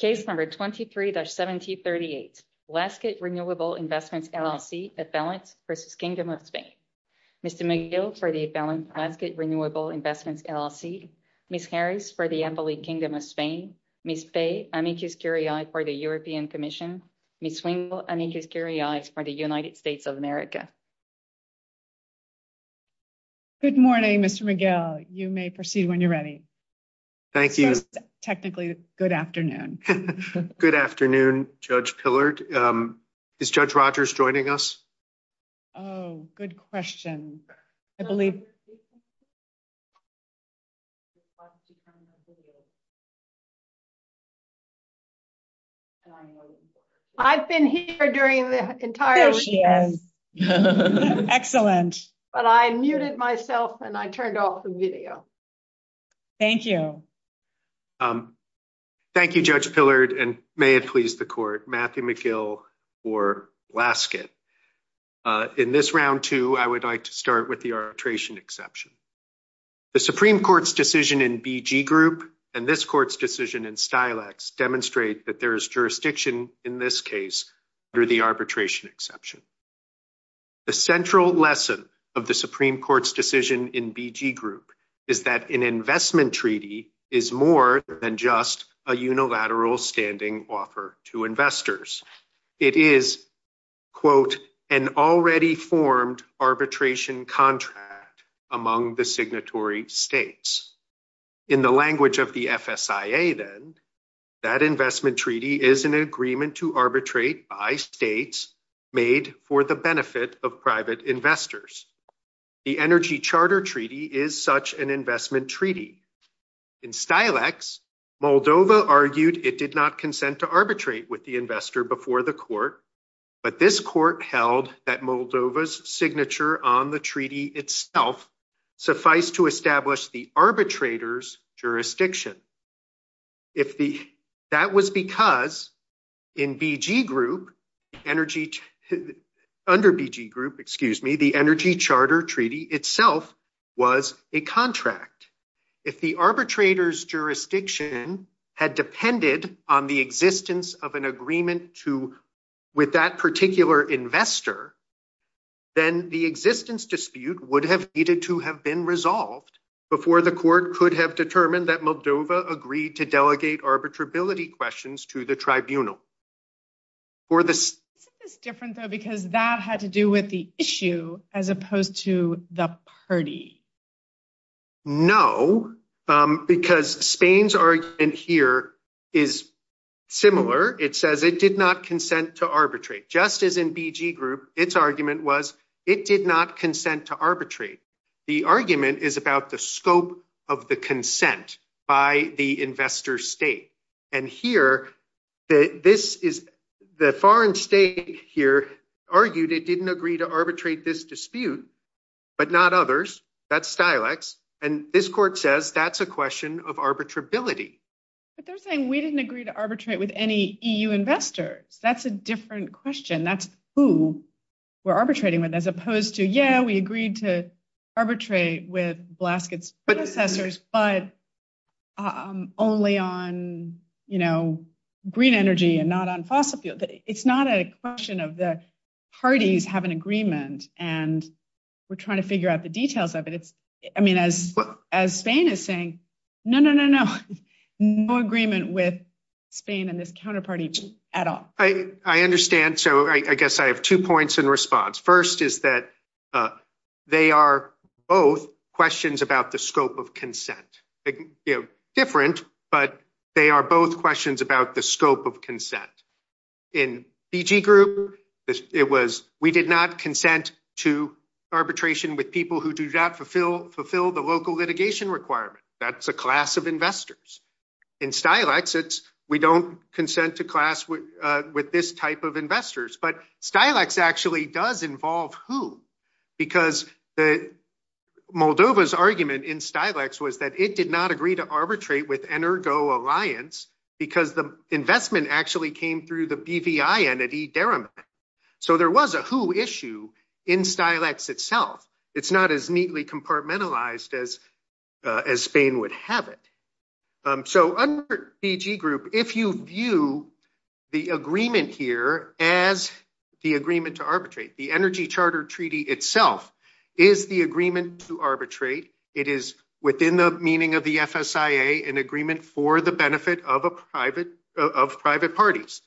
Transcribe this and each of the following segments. Case number 23-1738, Laska Renewable Investments LLC, Affluence v. Kingdom of Spain. Mr. Miguel for the Affluence Asset Renewable Investments LLC, Ms. Harris for the Embolid Kingdom of Spain, Ms. Faye Anijuskiri for the European Commission, Ms. Wengel Anijuskiri for the United States of America. Good morning Mr. Miguel, you may proceed when you're ready. Thank you. Technically, good afternoon. Good afternoon Judge Pillard. Is Judge Rogers joining us? Oh, good question. I believe... I've been here during the entire... Excellent. But I muted myself and I turned off the video. Thank you. Um, thank you Judge Pillard and may it please the court, Matthew Miguel for Lasket. In this round two, I would like to start with the arbitration exception. The Supreme Court's decision in BG Group and this court's decision in Stilex demonstrate that there is jurisdiction in this case under the arbitration exception. The central lesson of the Supreme Court's decision in BG Group is that an investment treaty is more than just a unilateral standing offer to investors. It is, quote, an already formed arbitration contract among the signatory states. In the language of the FSIA then, that investment treaty is an agreement to arbitrate by states made for the benefit of private investors. The Energy Charter Treaty is such an investment treaty. In Stilex, Moldova argued it did not consent to arbitrate with the investor before the court, but this court held that Moldova's signature on the treaty itself suffice to establish the arbitrator's jurisdiction. That was because under BG Group, the Energy Charter Treaty itself was a contract. If the arbitrator's jurisdiction had depended on the existence of an agreement with that particular investor, then the existence dispute would have needed to have been resolved before the court could have determined that Moldova agreed to delegate arbitrability questions to the tribunal. This is different though because that had to do with the issue as opposed to the party. No, because Spain's argument here is similar. It says it did not consent to arbitrate. Just as in BG Group, its argument was it did not consent to arbitrate. The argument is about the scope of the consent by the investor state, and here, the foreign state here argued it didn't agree to arbitrate this dispute, but not others. That's Stilex, and this court says that's a question of arbitrability. But they're saying we didn't agree to arbitrate with any EU investor. That's a different question. That's who we're arbitrating with as opposed to, yeah, we agreed to arbitrate with Blazkowicz, but only on green energy and not on fossil fuel. It's not a question of the parties having agreement, and we're trying to figure out the details of it. As Spain is saying, no, no, no, no, no agreement with Spain and this counterparty at all. I understand, so I guess I have two points in response. First is that they are both questions about the scope of consent. Different, but they are both questions about the scope of consent. In BG Group, it was we did not consent to arbitration with people who do not fulfill the local litigation requirement. That's a class of investors. In Stilex, it's we don't consent to class with this type of investors, but Stilex actually does involve who, because Moldova's argument in Stilex was that it did not agree to arbitrate with Energo Alliance because the investment actually came through the BVI entity, Deremet. So there was a who issue in Stilex itself. It's not as neatly compartmentalized as Spain would have it. So under BG Group, if you view the agreement here as the agreement to arbitrate, the Energy Charter Treaty itself is the agreement to arbitrate. It is within the meaning of the FSIA, an agreement for the benefit of private parties.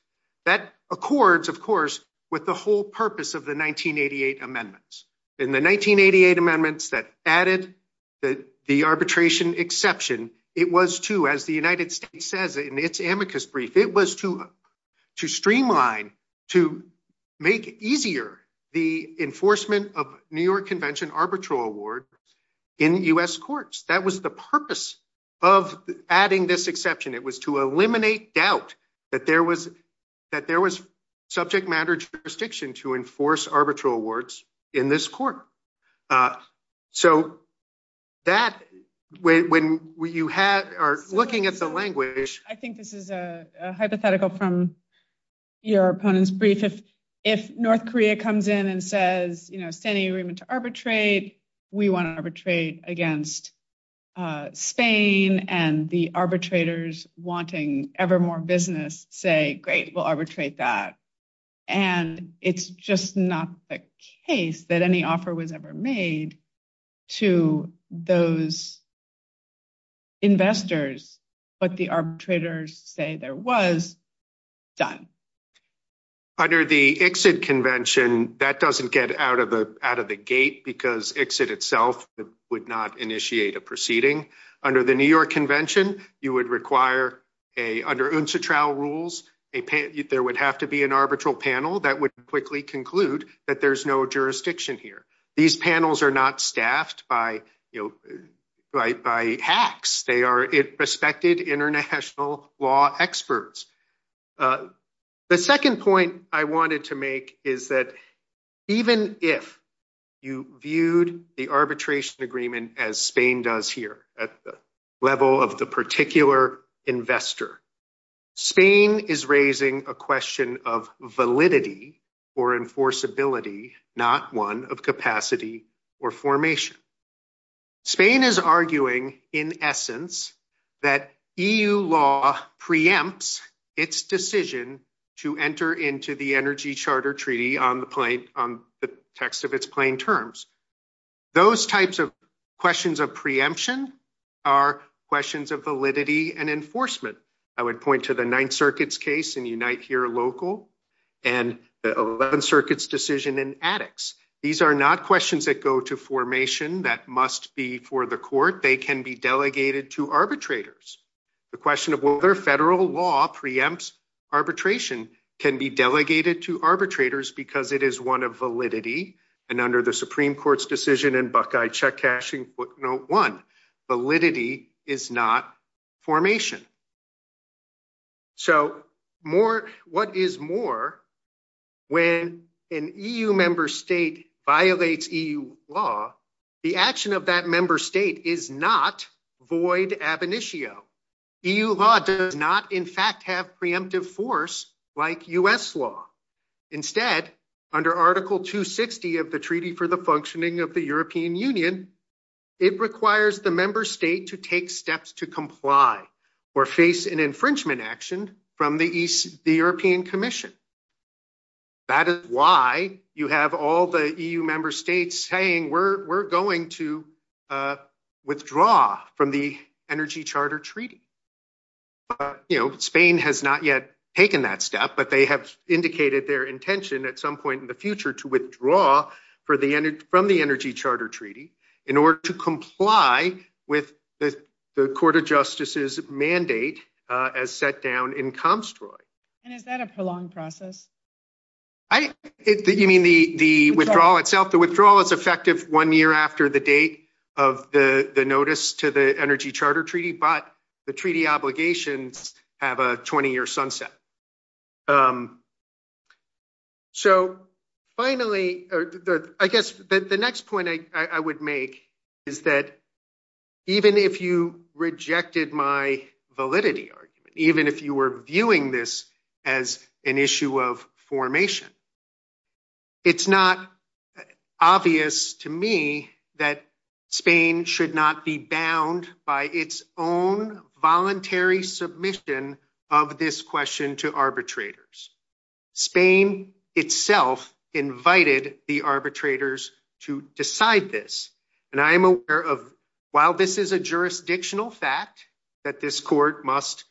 That accords, of course, with the whole purpose of the 1988 amendments. In the 1988 amendments that added the arbitration exception, it was to, as the United States says in its amicus brief, it was to streamline, to make easier the enforcement of New York Convention arbitral award in U.S. courts. That was the purpose of adding this exception. It was to eliminate doubt that there was subject matter jurisdiction to looking at the language. I think this is a hypothetical from your opponent's brief. If North Korea comes in and says, you know, standing agreement to arbitrate, we want to arbitrate against Spain and the arbitrators wanting ever more business say, great, we'll arbitrate that. And it's just not the case that any offer was ever made to those investors, but the arbitrators say there was, done. Under the exit convention, that doesn't get out of the gate because exit itself would not initiate a proceeding. Under the New York Convention, you would require a, under UNCTRA rules, there would have to be an arbitral panel that would quickly conclude that there's no jurisdiction here. These panels are not staffed by, by hacks. They are respected international law experts. The second point I wanted to make is that even if you viewed the arbitration agreement as Spain does here at the level of the particular investor, Spain is raising a question of validity or enforceability, not one of capacity or formation. Spain is arguing in essence, that EU law preempts its decision to enter into the energy charter treaty on the point, on the text of its plain terms. Those types of questions of preemption are questions of validity and enforcement. I would point to the ninth circuits case in Unite here local and the 11 circuits decision in addicts. These are not questions that go to for the court. They can be delegated to arbitrators. The question of whether federal law preempts arbitration can be delegated to arbitrators because it is one of validity. And under the Supreme Court's decision in Buckeye check cashing footnote one, validity is not formation. So more, what is more when an EU member state violates EU law, the action of that member state is not void ab initio. EU law does not in fact have preemptive force like US law. Instead under article 260 of the treaty for the functioning of the European Union, it requires the member state to take steps to comply or face an infringement action from the European commission. That is why you have all the EU member states saying, we're going to withdraw from the energy charter treaty. Spain has not yet taken that step, but they have indicated their intention at some point in the future to withdraw from the energy charter treaty in order to comply with the court of justices mandate as set down in Comstroy. And is that a prolonged process? You mean the withdrawal itself? The withdrawal is effective one year after the date of the notice to the energy charter treaty, but the treaty obligations have a 20 year sunset. Um, so finally, I guess the next point I would make is that even if you rejected my validity argument, even if you were viewing this as an issue of formation, it's not obvious to me that Spain should not be bound by its own voluntary submission of this question to arbitrators. Spain itself invited the arbitrators to decide this. And I am aware of, while this is a jurisdictional fact that this court must,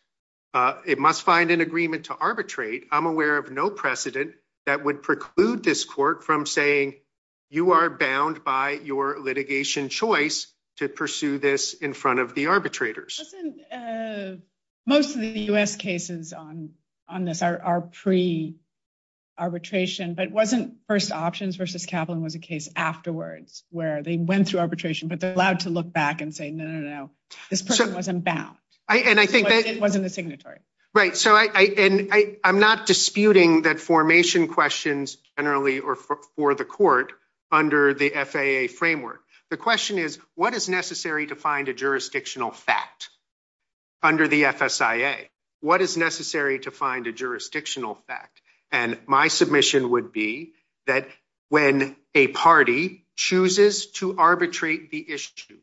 uh, it must find an agreement to arbitrate. I'm aware of no precedent that would preclude this court from saying you are bound by your litigation choice to pursue this in front of the arbitrators. Most of the U.S. cases on this are pre-arbitration, but it wasn't first options versus Kaplan was a case afterwards where they went through arbitration, but they're allowed to look back and say, no, no, no, this person wasn't bound. And I think that wasn't the signatory. Right. So I, I, I, I'm not disputing that formation questions generally or for the court under the FAA framework. The question is what is necessary to find a jurisdictional fact under the FSIA? What is necessary to find a jurisdictional fact? And my submission would be that when a party chooses to arbitrate the issue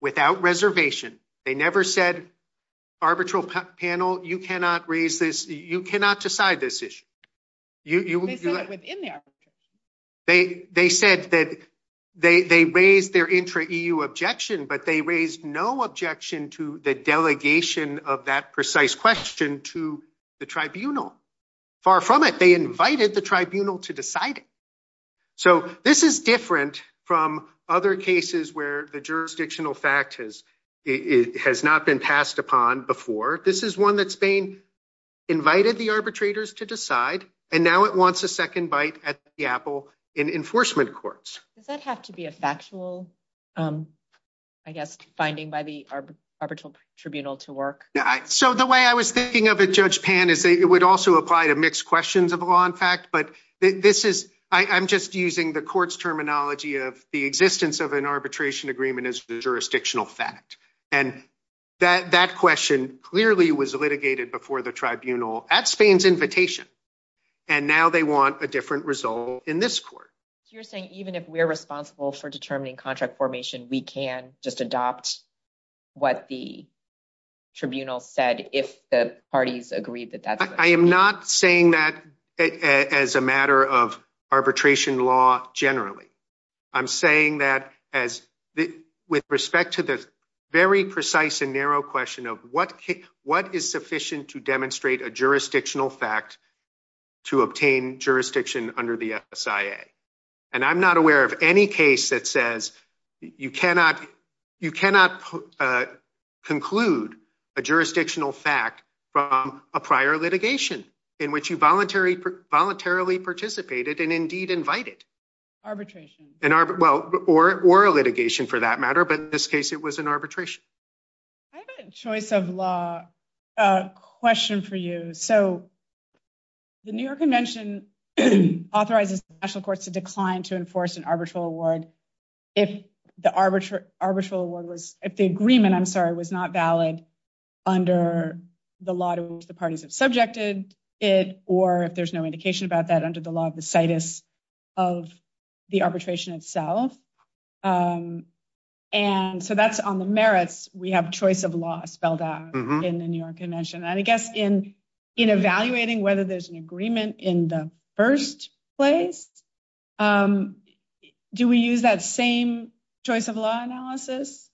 without reservation, they never said arbitral panel, you cannot raise this. You cannot decide this issue. They, they said that they, they raised their intra EU objection, but they raised no objection to the delegation of that precise question to the tribunal. Far from it. They invited the tribunal to decide it. So this is different from other cases where the jurisdictional fact has, it has not been passed upon before. This is one that's been invited the arbitrators to decide, and now it wants a second bite at the apple in enforcement courts. Does that have to be a factual, I guess, finding by the arbitral tribunal to work? So the way I was thinking of it, judge Pan is that it would also apply to mixed questions of contract, but this is, I I'm just using the court's terminology of the existence of an arbitration agreement as jurisdictional fact. And that, that question clearly was litigated before the tribunal at Spain's invitation. And now they want a different result in this court. You're saying, even if we're responsible for determining contract formation, we can just adopt what the tribunal said, if the parties agreed that that's. I am not saying that as a matter of arbitration law, generally, I'm saying that as with respect to the very precise and narrow question of what, what is sufficient to demonstrate a jurisdictional fact to obtain jurisdiction under the SIA. And I'm not aware of any case that says you cannot, you cannot conclude a jurisdictional fact from a prior litigation in which you voluntarily, voluntarily participated and indeed invited. Arbitration. An arbit, well, or, or a litigation for that matter, but in this case, it was an arbitration. I have a choice of law question for you. So the New York convention authorizes the national award. If the arbitrary arbitral award was at the agreement, I'm sorry, it was not valid under the lot of the parties that subjected it, or if there's no indication about that under the law of the status of the arbitration itself. And so that's on the merits. We have choice of law spelled out in the New York convention. And I guess in, in evaluating whether there's an agreement in the first place, do we use that same choice of law analysis?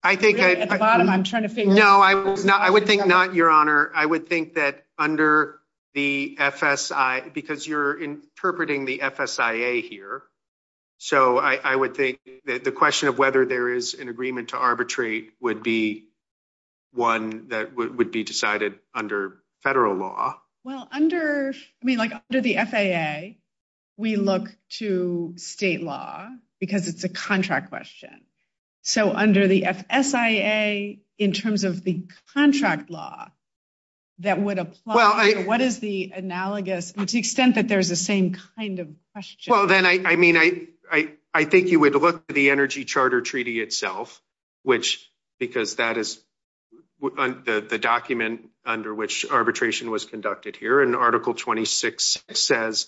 I think at the bottom, I'm trying to figure out, I would think not your honor. I would think that under the FSI, because you're interpreting the FSIA here. So I would think that the question of whether there is an agreement to arbitrate would be one that would be decided under federal law. Well, under, I mean, like under the FAA, we look to state law because it's a contract question. So under the FSIA, in terms of the contract law that would apply, what is the analogous to the extent that there's the same kind of question? Well, then I, I mean, I, I, I think you would look at the energy charter treaty itself, which, because that is the document under which arbitration was conducted here. And article 26 says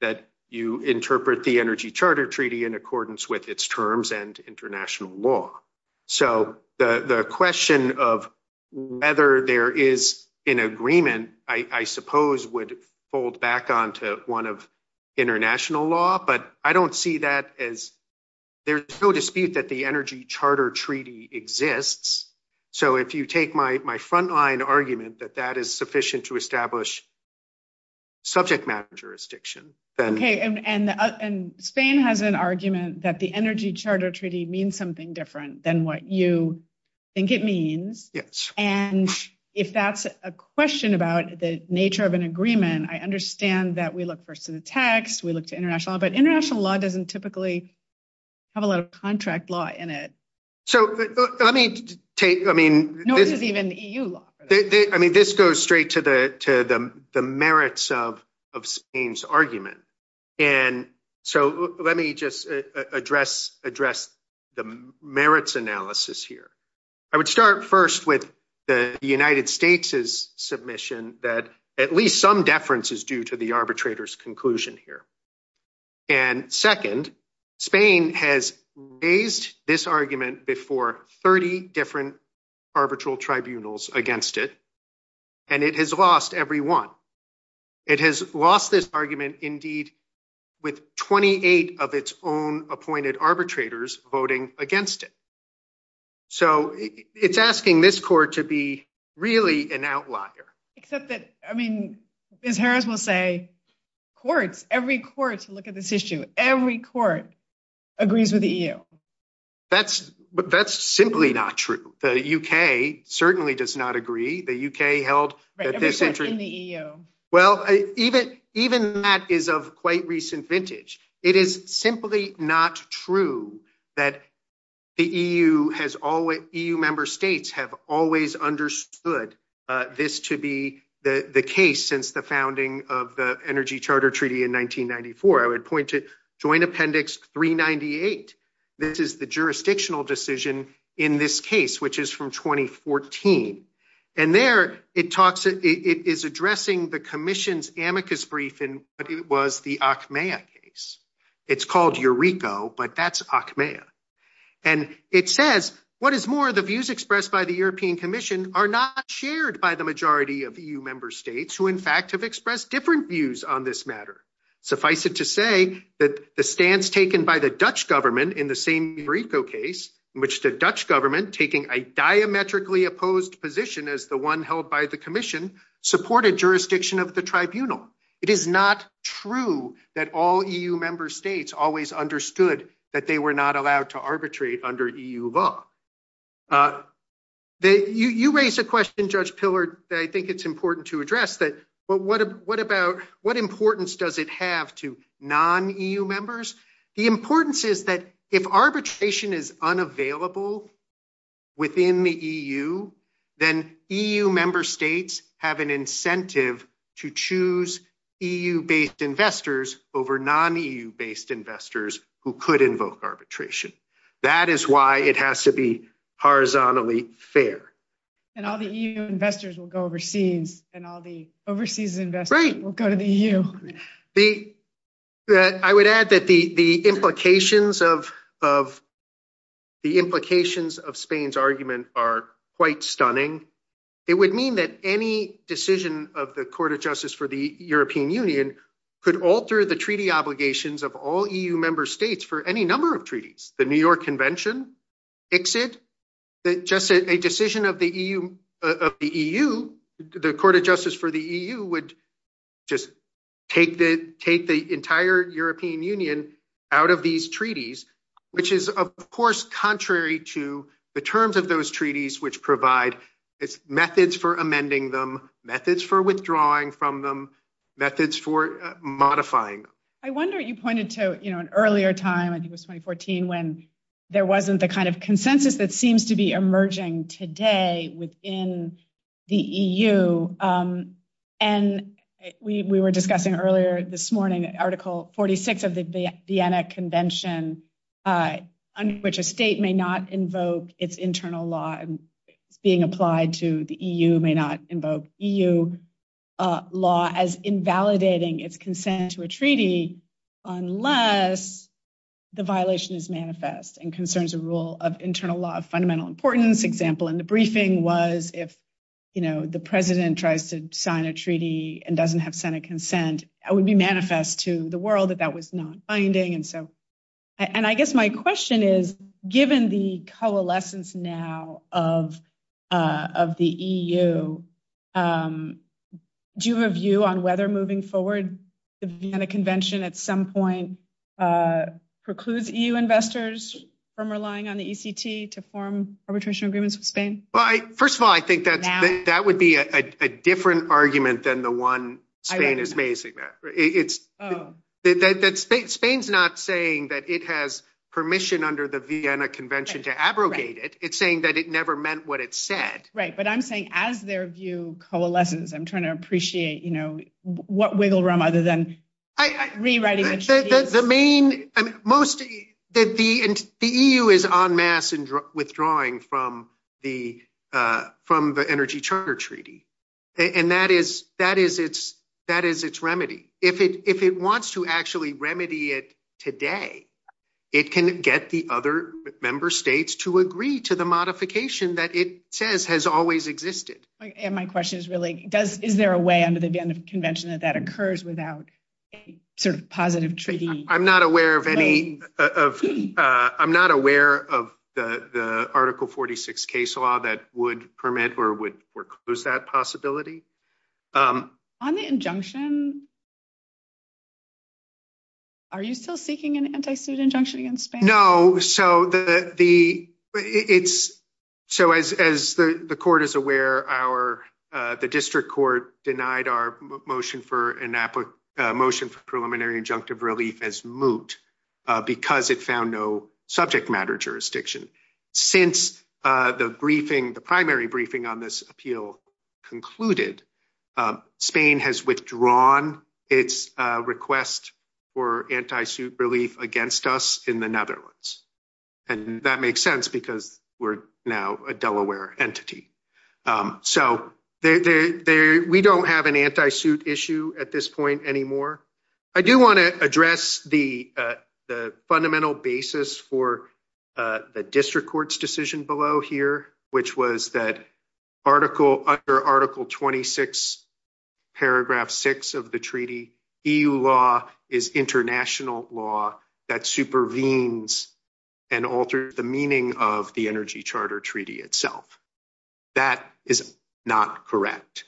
that you interpret the energy charter treaty in accordance with its terms and international law. So the, the question of whether there is an agreement, I suppose would hold back onto one of international law, but I don't see that as there's no dispute that the energy charter treaty exists. So if you take my, my frontline argument that that is sufficient to establish subject matter jurisdiction, then. Okay. And, and, and Spain has an argument that the energy charter treaty means something different than what you think it means. Yes. And if that's a question about the nature of an agreement, I understand that we look first to the text, we look to international law, but international law doesn't typically have a lot of contract law in it. So let me take, I mean, I mean, this goes straight to the, to the merits of, of Spain's argument. And so let me just address, address the merits analysis here. I would start first with the United States's submission that at least some deference is due to the arbitrator's conclusion here. And second, Spain has raised this argument before 30 different arbitral tribunals against it, and it has lost every one. It has lost this argument indeed with 28 of its own appointed arbitrators voting against it. So it's asking this court to be really an outlier. Except that, I mean, as Harris will say, courts, every court, look at this issue, every court agrees with the EU. That's, that's simply not true. The UK certainly does not agree. The UK held. Right, except in the EU. Well, even, even that is of quite recent vintage. It is simply not true that the EU has always, EU member states have always understood this to be the case since the founding of the Energy Charter Treaty in 1994. I would point to Joint Appendix 398. This is the jurisdictional decision in this case, which is from the Acmea case. It's called Eurico, but that's Acmea. And it says, what is more, the views expressed by the European Commission are not shared by the majority of EU member states, who in fact have expressed different views on this matter. Suffice it to say that the stance taken by the Dutch government in the same Eurico case, in which the Dutch government, taking a diametrically opposed position as the one that all EU member states always understood that they were not allowed to arbitrate under EU law. You raised a question, Judge Pillard, that I think it's important to address. But what, what about, what importance does it have to non-EU members? The importance is that if arbitration is unavailable within the EU, then EU member states have an incentive to choose EU-based investors over non-EU-based investors who could invoke arbitration. That is why it has to be horizontally fair. And all the EU investors will go overseas, and all the overseas investors will go to the EU. I would add that the implications of Spain's argument are quite stunning. It would mean that any decision of the Court of Justice for the European Union could alter the treaty obligations of all EU member states for any number of treaties. The New York Convention fix it, but just a decision of the EU, of the EU, the Court of Justice for the EU would just take the, take the entire European Union out of these treaties, which is, of course, contrary to the terms of those treaties, which provide methods for amending them, methods for withdrawing from them, methods for modifying. I wonder, you pointed to, you know, an earlier time, I think it was 2014, when there wasn't the kind of consensus that seems to be emerging today within the EU. And we were discussing earlier this morning, Article 46 of the Vienna Convention, under which a state may not invoke its internal law and being applied to the EU may not invoke EU law as invalidating its consent to a treaty, unless the violation is manifest and concerns a rule of internal law of fundamental importance. Example in the briefing was if, you know, the President tries to sign a treaty and doesn't have Senate consent, it would be manifest to the world that that was not binding. And so, and I guess my question is, given the coalescence now of the EU, do you have a view on whether moving forward, the Vienna Convention at some point precludes EU investors from relying on the ECT to form arbitration agreements with Spain? Well, first of all, I think that would be a different argument than the one Spain is raising. Spain's not saying that it has permission under the Vienna Convention to abrogate it. It's saying that it never meant what it said. Right. But I'm saying as their view coalesces, I'm trying to appreciate, you know, what wiggle room other than rewriting the EU is on mass and withdrawing from the Energy Charter Treaty. And that is its remedy. If it wants to actually remedy it today, it can get the other member states to agree to the modification that it says has always existed. And my question is really, is there a way under the Vienna Convention? I'm not aware of the Article 46 case law that would permit or would foreclose that possibility. On the injunction, are you still seeking an anti-suit injunction against Spain? No. So, as the court is aware, the district court denied our motion for preliminary injunctive relief as moot because it found no subject matter jurisdiction. Since the briefing, the primary briefing on this appeal concluded, Spain has withdrawn its request for anti-suit relief against us in the Netherlands. And that makes sense because we're now a Delaware entity. So, we don't have an anti-suit issue at this point anymore. I do want to address the fundamental basis for the district court's decision below here, which was that Article 26, Paragraph 6 of the treaty, EU law is international law that supervenes and alters the meaning of the Energy Charter Treaty itself. That is not correct.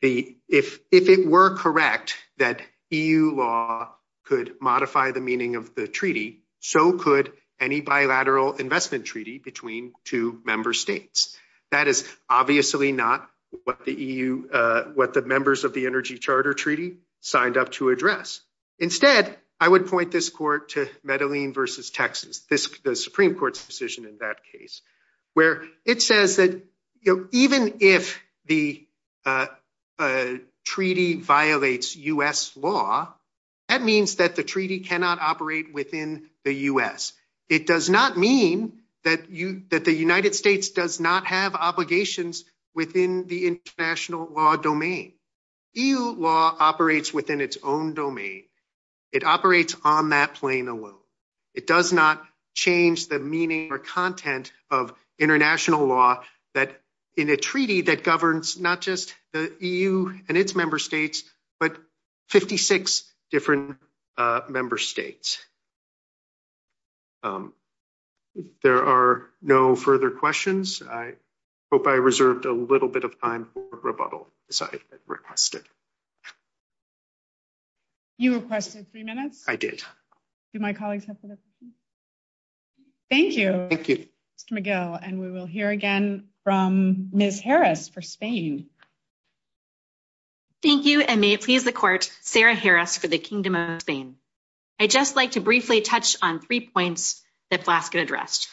If it were correct that EU law could modify the meaning of the treaty, so could any bilateral investment treaty between two member states. That is obviously not what the EU, what the members of the Energy Charter Treaty signed up to address. Instead, I would point this court to Medellin versus Texas, the Supreme Court's decision in that case, where it says that even if the treaty violates U.S. law, that means that the treaty cannot operate within the U.S. It does not mean that the United States does not have obligations within the international law domain. EU law operates within its own domain. It operates on that plane alone. It does not change the meaning or content of international law in a treaty that governs not just the EU and its member states, but 56 different member states. There are no further questions. I hope I reserved a little bit of time for rebuttal, as I requested. You requested three minutes? I did. Did my colleagues have further questions? Thank you, Mr. McGill. We will hear again from Ms. Harris for Spain. Thank you, and may it please the court, Sarah Harris for the Kingdom of Spain. I'd just like to briefly touch on three points that Blaskett addressed.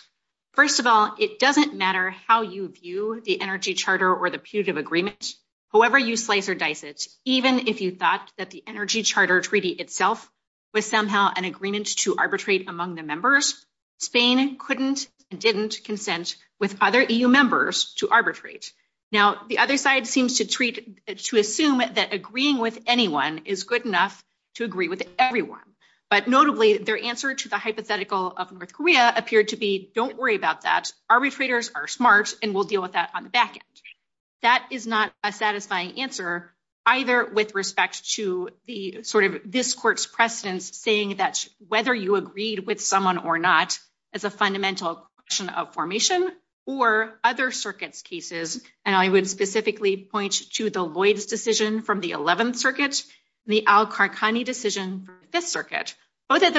First of all, it doesn't matter how you view the Energy Charter or the Puget Agreement. However you slice or dice it, even if you thought that the Energy Charter Treaty itself was somehow an agreement to arbitrate among the members, Spain couldn't and didn't consent with other EU members to arbitrate. Now, the other side seems to assume that agreeing with anyone is good enough to agree with everyone. But notably, their answer to the hypothetical of North Korea appeared to be, don't worry about that. Arbitrators are smart, and we'll deal with that on the back end. That is not a satisfying answer, either with respect to this court's precedence saying that whether you agreed with someone or not is a fundamental question of formation, or other circuits' cases. And I would specifically point to the Lloyds decision from the 11th Circuit and the Al-Qarqani decision from the 11th Circuit, where they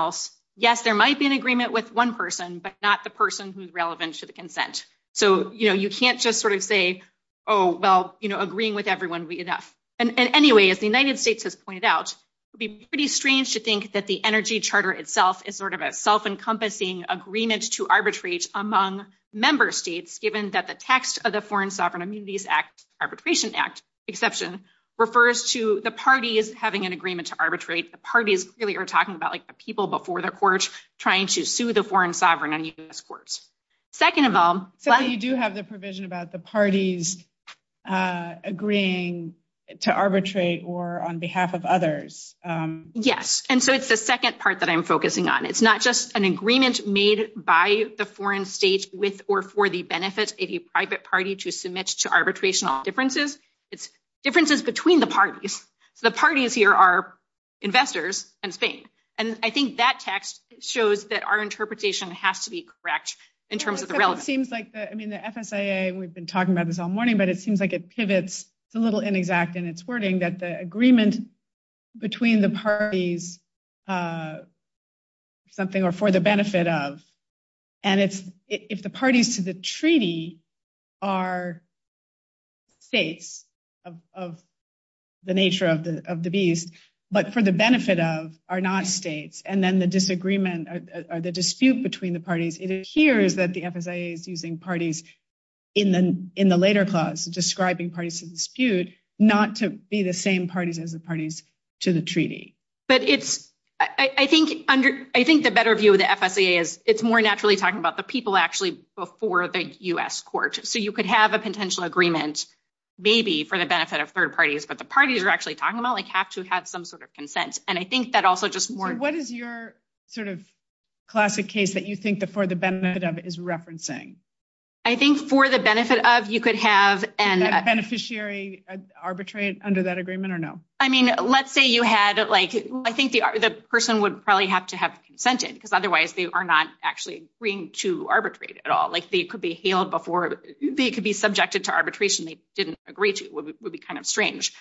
said, yes, there might be an agreement with one person, but not the person who's relevant to the consent. So you can't just sort of say, oh, well, agreeing with everyone would be enough. And anyway, as the United States has pointed out, it would be pretty strange to think that the Energy Charter itself is sort of a self-encompassing agreement to arbitrate among member states, given that the text of the Foreign Sovereign Immunities Act Arbitration Act exception refers to the parties having an agreement to arbitrate. The parties really are talking about like the people before the court trying to sue the foreign sovereign in this court. Second of all, you do have the provision about the parties agreeing to arbitrate or on behalf of others. Yes, and so it's the second part that I'm focusing on. It's not just an agreement made by the foreign state with or for the benefit of a private party to submit to arbitration differences. It's differences between the parties. The parties here are investors and things. And I think that text shows that our interpretation has to be correct in terms of the relevance. It seems like, I mean, the FSIA, we've been talking about this all morning, but it seems like it pivots a little inexact in its wording that the agreement between the parties are for the benefit of. And if the parties to the treaty are states of the nature of the bees, but for the benefit of are not states, and then the disagreement or the dispute between the parties, it adheres that the FSIA is using parties in the later clause, describing parties to dispute not to be the same parties as the parties to the treaty. But I think the better view of the FSIA is it's more naturally talking about the people actually before the US court. So you could have a potential agreement, maybe for the benefit of third parties, but the parties are actually talking about like have to have some sort of consent. And I think that also just more... What is your sort of classic case that you think that for the benefit of is referencing? I think for the benefit of you could have... A beneficiary arbitrate under that agreement or no? I mean, let's say you had... I think the person would probably have to have consented because otherwise they are not actually agreeing to arbitrate at all. They could be hailed before... They could be subjected to arbitration they didn't agree to. It would be kind of strange.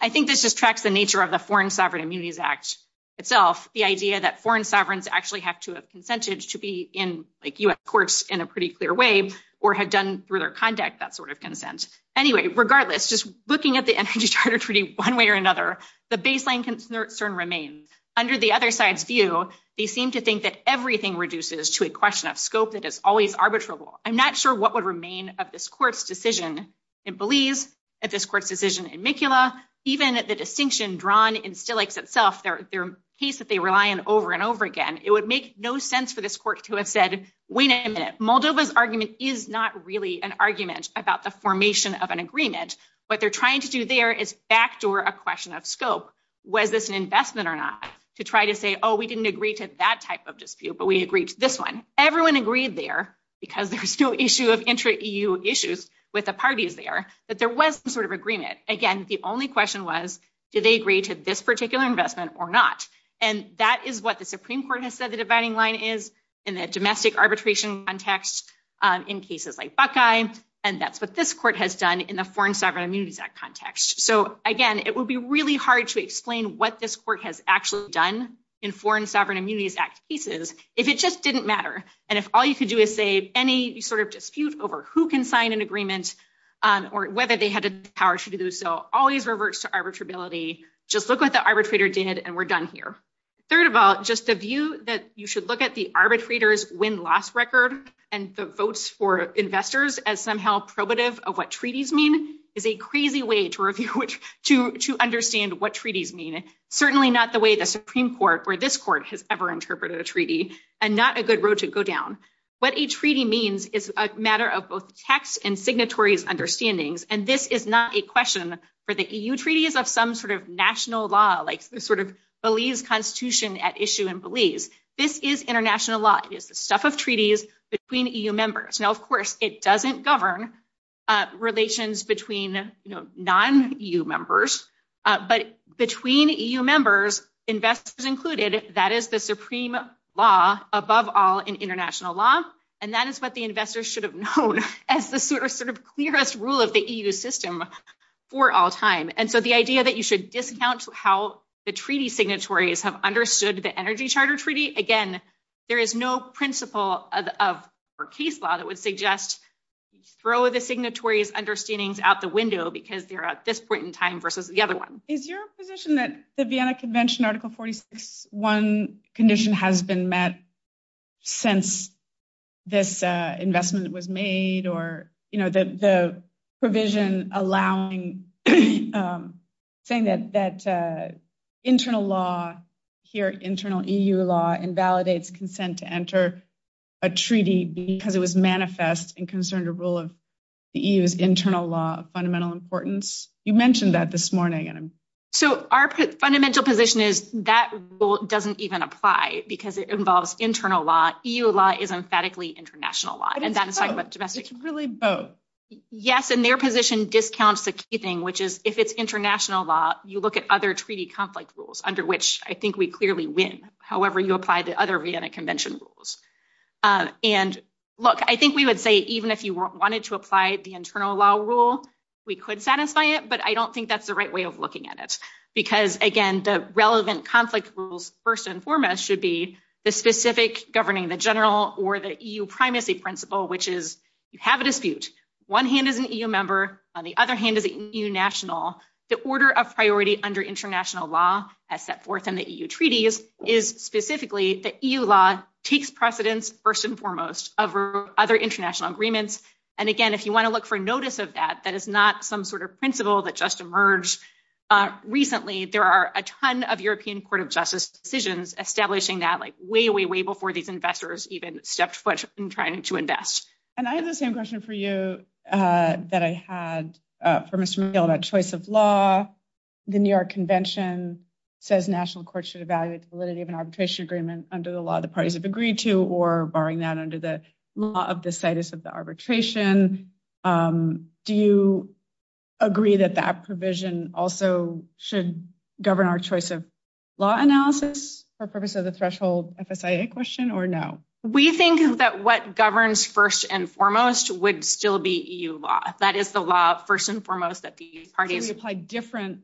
I think this just tracks the nature of the Foreign Sovereign Immunities Act itself. The idea that foreign sovereigns actually have to have consented to be in US courts in a pretty clear way or have done through their contact that sort of consent. Anyway, regardless, just looking at the energy charter treaty one way or another, the baseline concern remains. Under the other side's view, they seem to think that everything reduces to a question of scope that is always arbitrable. I'm not sure what would remain of this court's decision. It believes that this court's decision in Mikula, even at the distinction drawn in Stilix itself, their case that they rely on over and over again, it would make no sense for this court to have said, wait a minute, Moldova's argument is not really an argument about the formation of an agreement. What they're trying to do there is backdoor a question of scope. Was this an investment or not to try to say, oh, we didn't agree to that type of dispute, but we agreed to this one. Everyone agreed there because there was no issue of intra-EU issues with the parties there, that there was some sort of agreement. Again, the only question was, did they agree to this particular investment or not? And that is what the Supreme Court has said the dividing line is in the domestic arbitration context in cases like Buckeye, and that's what this court has done in the Foreign Sovereign Immunities Act context. So again, it will be really hard to explain what this court has actually done in Foreign Sovereign Immunities Act cases if it just didn't matter, and if all you could do is say any sort of dispute over who can sign an agreement or whether they had the power to do so always reverts to arbitrability. Just look what the arbitrator did and we're done here. Third of all, just the view that you should look at the arbitrator's win-loss record and the votes for investors as somehow probative of what treaties mean is a crazy way to understand what treaties mean. Certainly not the way the Supreme Court or this court has ever interpreted a treaty, and not a good road to go down. What a treaty means is a matter of both text and signatories' understandings, and this is not a question for the EU treaties of some sort of national law, like the sort of Belize Constitution at issue in stuff of treaties between EU members. Now, of course, it doesn't govern relations between non-EU members, but between EU members, investors included, that is the supreme law above all in international law, and that is what the investors should have known as the sort of clearest rule of the EU system for all time. And so the idea that you should discount how the treaty signatories have understood the Energy Charter Treaty, again, there is no principle or case law that would suggest throw the signatories' understandings out the window because you're at this point in time versus the other one. Is your position that the Vienna Convention Article 46.1 condition has been met since this investment was made, or the provision saying that internal law, here internal EU law, invalidates consent to enter a treaty because it was manifest and concerned a rule of the EU's internal law of fundamental importance? You mentioned that this morning. So our fundamental position is that rule doesn't even apply because it involves internal law. EU law is emphatically international law. Yes, and their position discounts the keeping, which is if it's international law, you look at other treaty conflict rules under which I think we clearly win, however you apply the other Vienna Convention rules. And look, I think we would say even if you wanted to apply the internal law rule, we could satisfy it, but I don't think that's the way of looking at it. Because again, the relevant conflict rules first and foremost should be the specific governing the general or the EU primacy principle, which is you have a dispute. One hand is an EU member, on the other hand is a EU national. The order of priority under international law as set forth in the EU treaties is specifically that EU law takes precedence first and foremost over other international agreements. And again, if you want to look for notice of that, that is not some sort of principle that just emerged recently. There are a ton of European Court of Justice decisions establishing that like way, way, way before these investors even stepped foot in trying to invest. And I have the same question for you that I had for Mr. McGill about choice of law. The New York Convention says national courts should evaluate the validity of an arbitration agreement under the law the parties have agreed to or barring that under the law of the status of the arbitration. Do you agree that that provision also should govern our choice of law analysis for purpose of the threshold FSIA question or no? We think that what governs first and foremost would still be EU law. That is the law first and foremost that the parties- Can we apply different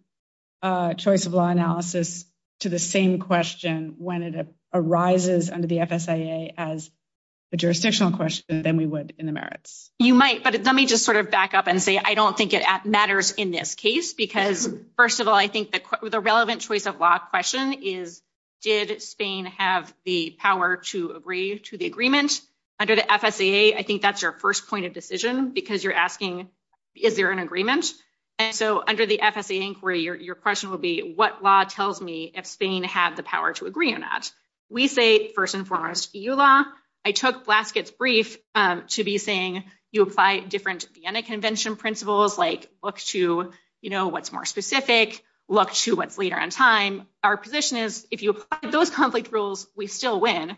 choice of law analysis to the same question when it arises under the FSIA as a jurisdictional question than we would in the merits? You might, but let me just sort of back up and say I don't think it matters in this case because first of all, I think that the relevant choice of law question is, did Spain have the power to agree to the agreement under the FSIA? I think that's your first point of decision because you're asking, is there an agreement? And so under the FSIA inquiry, your question will be what law tells me if Spain has the power to agree or not? We say first and foremost, EU law. I took Blaskett's brief to be saying you apply different Vienna Convention principles like look to what's more specific, look to what's later in time. Our position is if you apply those conflict rules, we still win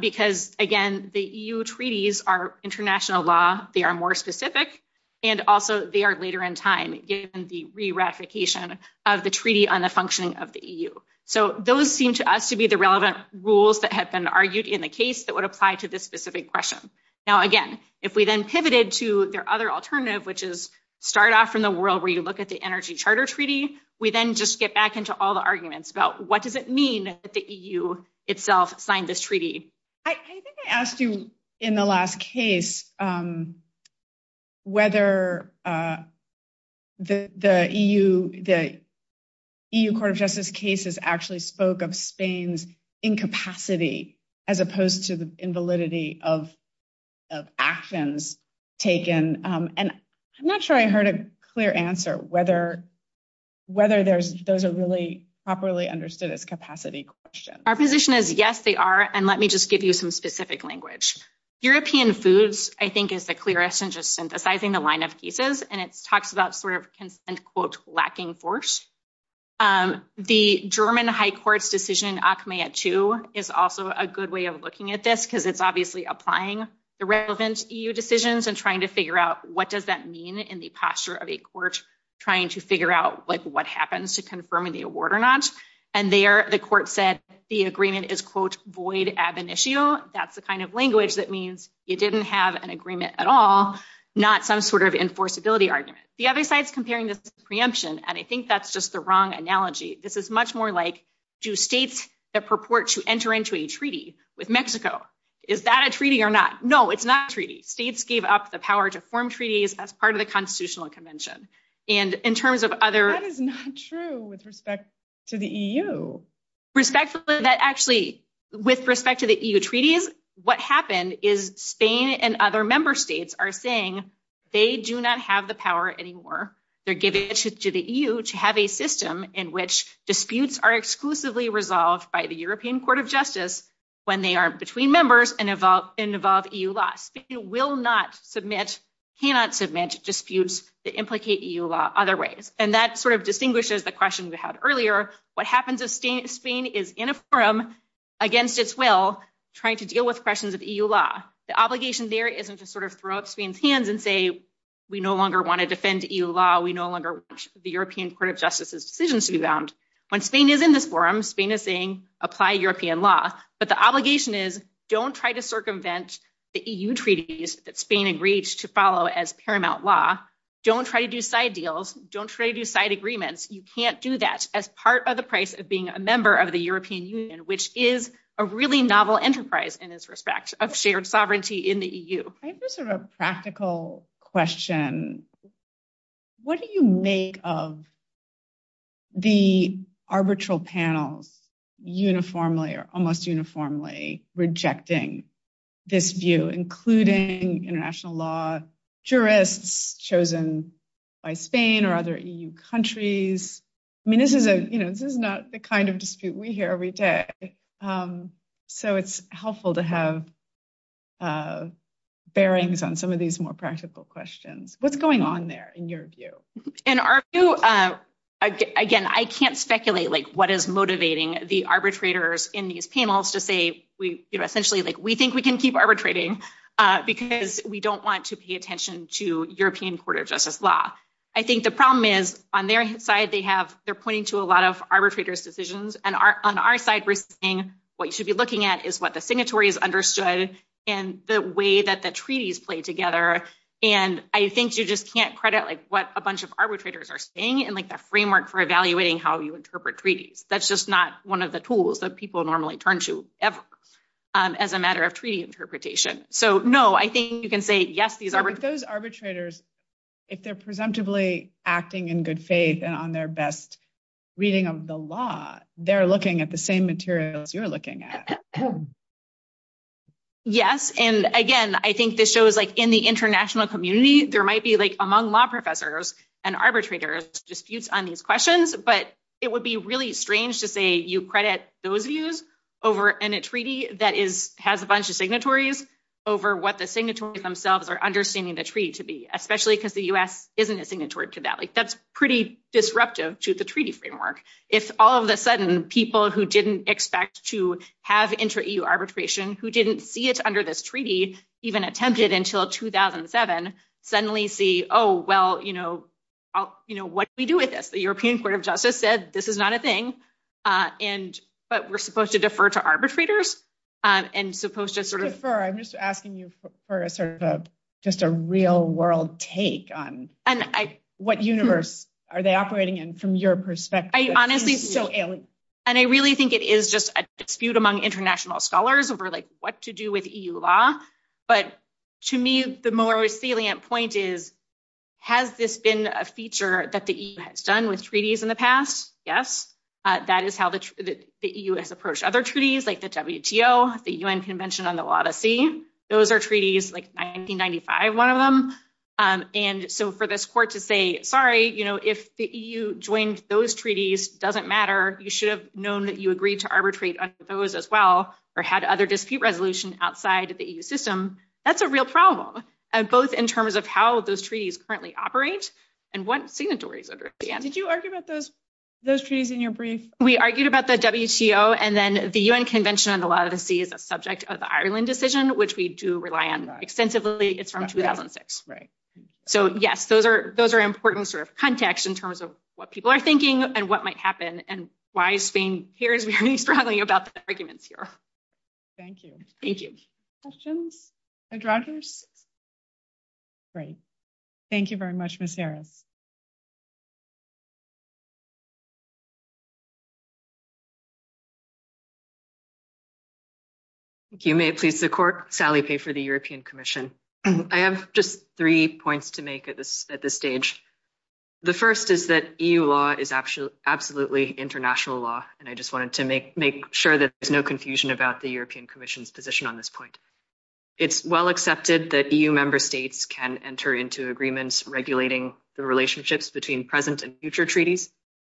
because again, the EU treaties are international law. They are more specific and also they are later in time given the re-replication of the treaty on the functioning of the EU. So those seem to us to be the relevant rules that have been argued in the case that would apply to this specific question. Now again, if we then pivoted to their other alternative, which is start off in the world where you look at the Energy Charter Treaty, we then just get back into all the arguments about what does it mean that the EU itself signed this treaty? I think I asked you in the last case whether the EU Court of Justice cases actually spoke of Spain's incapacity as opposed to the invalidity of actions taken. And I'm not sure I heard a clear answer whether those are really properly understood as capacity questions. Our position is yes, they are. And let me just give you some specific language. European foods, I think, is the clearest in just synthesizing the line of pieces. And it talks about sort of lacking force. The German High Court's decision Achmea II is also a good way of looking at this because it's obviously applying the relevant EU decisions and trying to figure out what does that mean in the posture of a court trying to figure out what happens to confirm the award or not. And there the court said the agreement is, quote, void ab initio. That's the kind of language that means you didn't have an agreement at all, not some sort of enforceability argument. The other side's comparing this to preemption. And I think that's just the wrong analogy. This is much more like do states purport to enter into a treaty with Mexico? Is that a treaty or not? No, it's not a treaty. States gave up the power to form treaties as part of the Constitutional Convention. And in the EU, with respect to the EU treaties, what happened is Spain and other member states are saying they do not have the power anymore. They're giving it to the EU to have a system in which disputes are exclusively resolved by the European Court of Justice when they are between members and involve EU laws. It will not submit, cannot submit disputes that implicate EU law other ways. And that sort of distinguishes the question we had earlier. What happens is Spain is in a forum against its will trying to deal with questions of EU law. The obligation there isn't to sort of throw up Spain's hands and say, we no longer want to defend EU law. We no longer want the European Court of Justice's decisions to be bound. When Spain is in this forum, Spain is saying apply European law. But the obligation is don't try to circumvent the EU treaties that Spain agrees to follow as paramount law. Don't try to do side deals. Don't try to do side agreements. You can't do that as part of the price of being a member of the European Union, which is a really novel enterprise in this respect of shared sovereignty in the EU. I have a sort of practical question. What do you make of the arbitral panel uniformly or almost uniformly rejecting this view, including international law jurists chosen by Spain or other EU countries? I mean, this is a, you know, this is not the kind of dispute we hear every day. So it's helpful to have bearings on some of these more practical questions. What's going on there in your view? In our view, again, I can't speculate like what is motivating the arbitrators in these panels to say essentially like we think we can keep arbitrating because we don't want to pay attention to European Court of Justice law. I think the problem is on their side, they're pointing to a lot of arbitrators' decisions. And on our side, we're saying what you should be looking at is what the signatories understood and the way that the treaties play together. And I think you just can't credit like what a bunch of arbitrators are saying and like the framework for evaluating how you interpret treaties. That's just not one of the tools that people normally turn to ever as a matter of treaty interpretation. So no, I think you can say, yes, these are those arbitrators, if they're presumptively acting in good faith and on their best reading of the law, they're looking at the same materials you're looking at. Yes. And again, I think this shows like in the international community, there might be like among law professors and arbitrators disputes on these questions, but it would be really strange to say you credit those views over in a treaty that has a bunch of signatories over what the signatories themselves are understanding the treaty to be, especially because the US isn't a signatory to that. Like that's pretty disruptive to the treaty framework. It's all of a sudden people who didn't expect to have intra-EU arbitration, who didn't see it under this treaty, even attempted until 2007, suddenly see, oh, well, what do we do with this? The European court of justice said, this is not a thing, but we're supposed to defer to arbitrators and supposed to sort of... Defer, I'm just asking you for a sort of a, just a real world take on what universe are they operating in from your perspective? I honestly... And I really think it is just a dispute among international scholars over like what to do with treaties. And I think the brilliant point is, has this been a feature that the EU has done with treaties in the past? Yes. That is how the EU has approached other treaties like the WTO, the UN Convention on the Law of the Sea. Those are treaties, like 1995, one of them. And so for this court to say, sorry, if the EU joins those treaties, it doesn't matter. You should have known that you agreed to arbitrate those as well, or had other dispute resolution outside of the EU system. That's a real problem. And both in terms of how those treaties currently operate and what signatories understand. Did you argue about those treaties in your brief? We argued about the WTO and then the UN Convention on the Law of the Sea is a subject of the Ireland decision, which we do rely on extensively. It's from 2006. Right. So yes, those are important sort of context in terms of what people are thinking and what might happen and why Spain hears very broadly about the arguments here. Thank you. Thank you. Questions? Great. Thank you very much, Ms. Harrow. Thank you. May it please the court, Sally Fay for the European Commission. I have just three points to make at this stage. The first is that EU law is absolutely international law, and I just wanted to make sure that there's no confusion about the European Commission's position on this point. It's well accepted that EU member states can enter into agreements regulating the relationships between present and future treaties.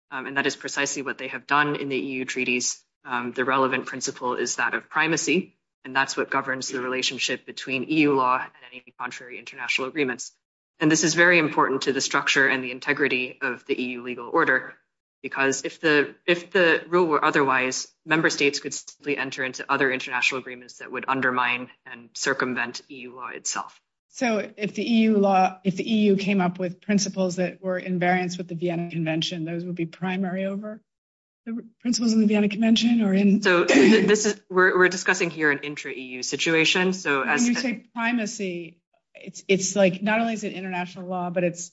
And that is precisely what they have done in the EU treaties. The relevant principle is that of primacy. And that's what governs the relationship between EU law and any contrary international agreements. And this is very important to the otherwise member states could simply enter into other international agreements that would undermine and circumvent EU law itself. So if the EU law, if the EU came up with principles that were in variance with the Vienna Convention, those would be primary over the principle in the Vienna Convention or in... So this is, we're discussing here an intra-EU situation, so... When you say primacy, it's like, not only is it international law, but it's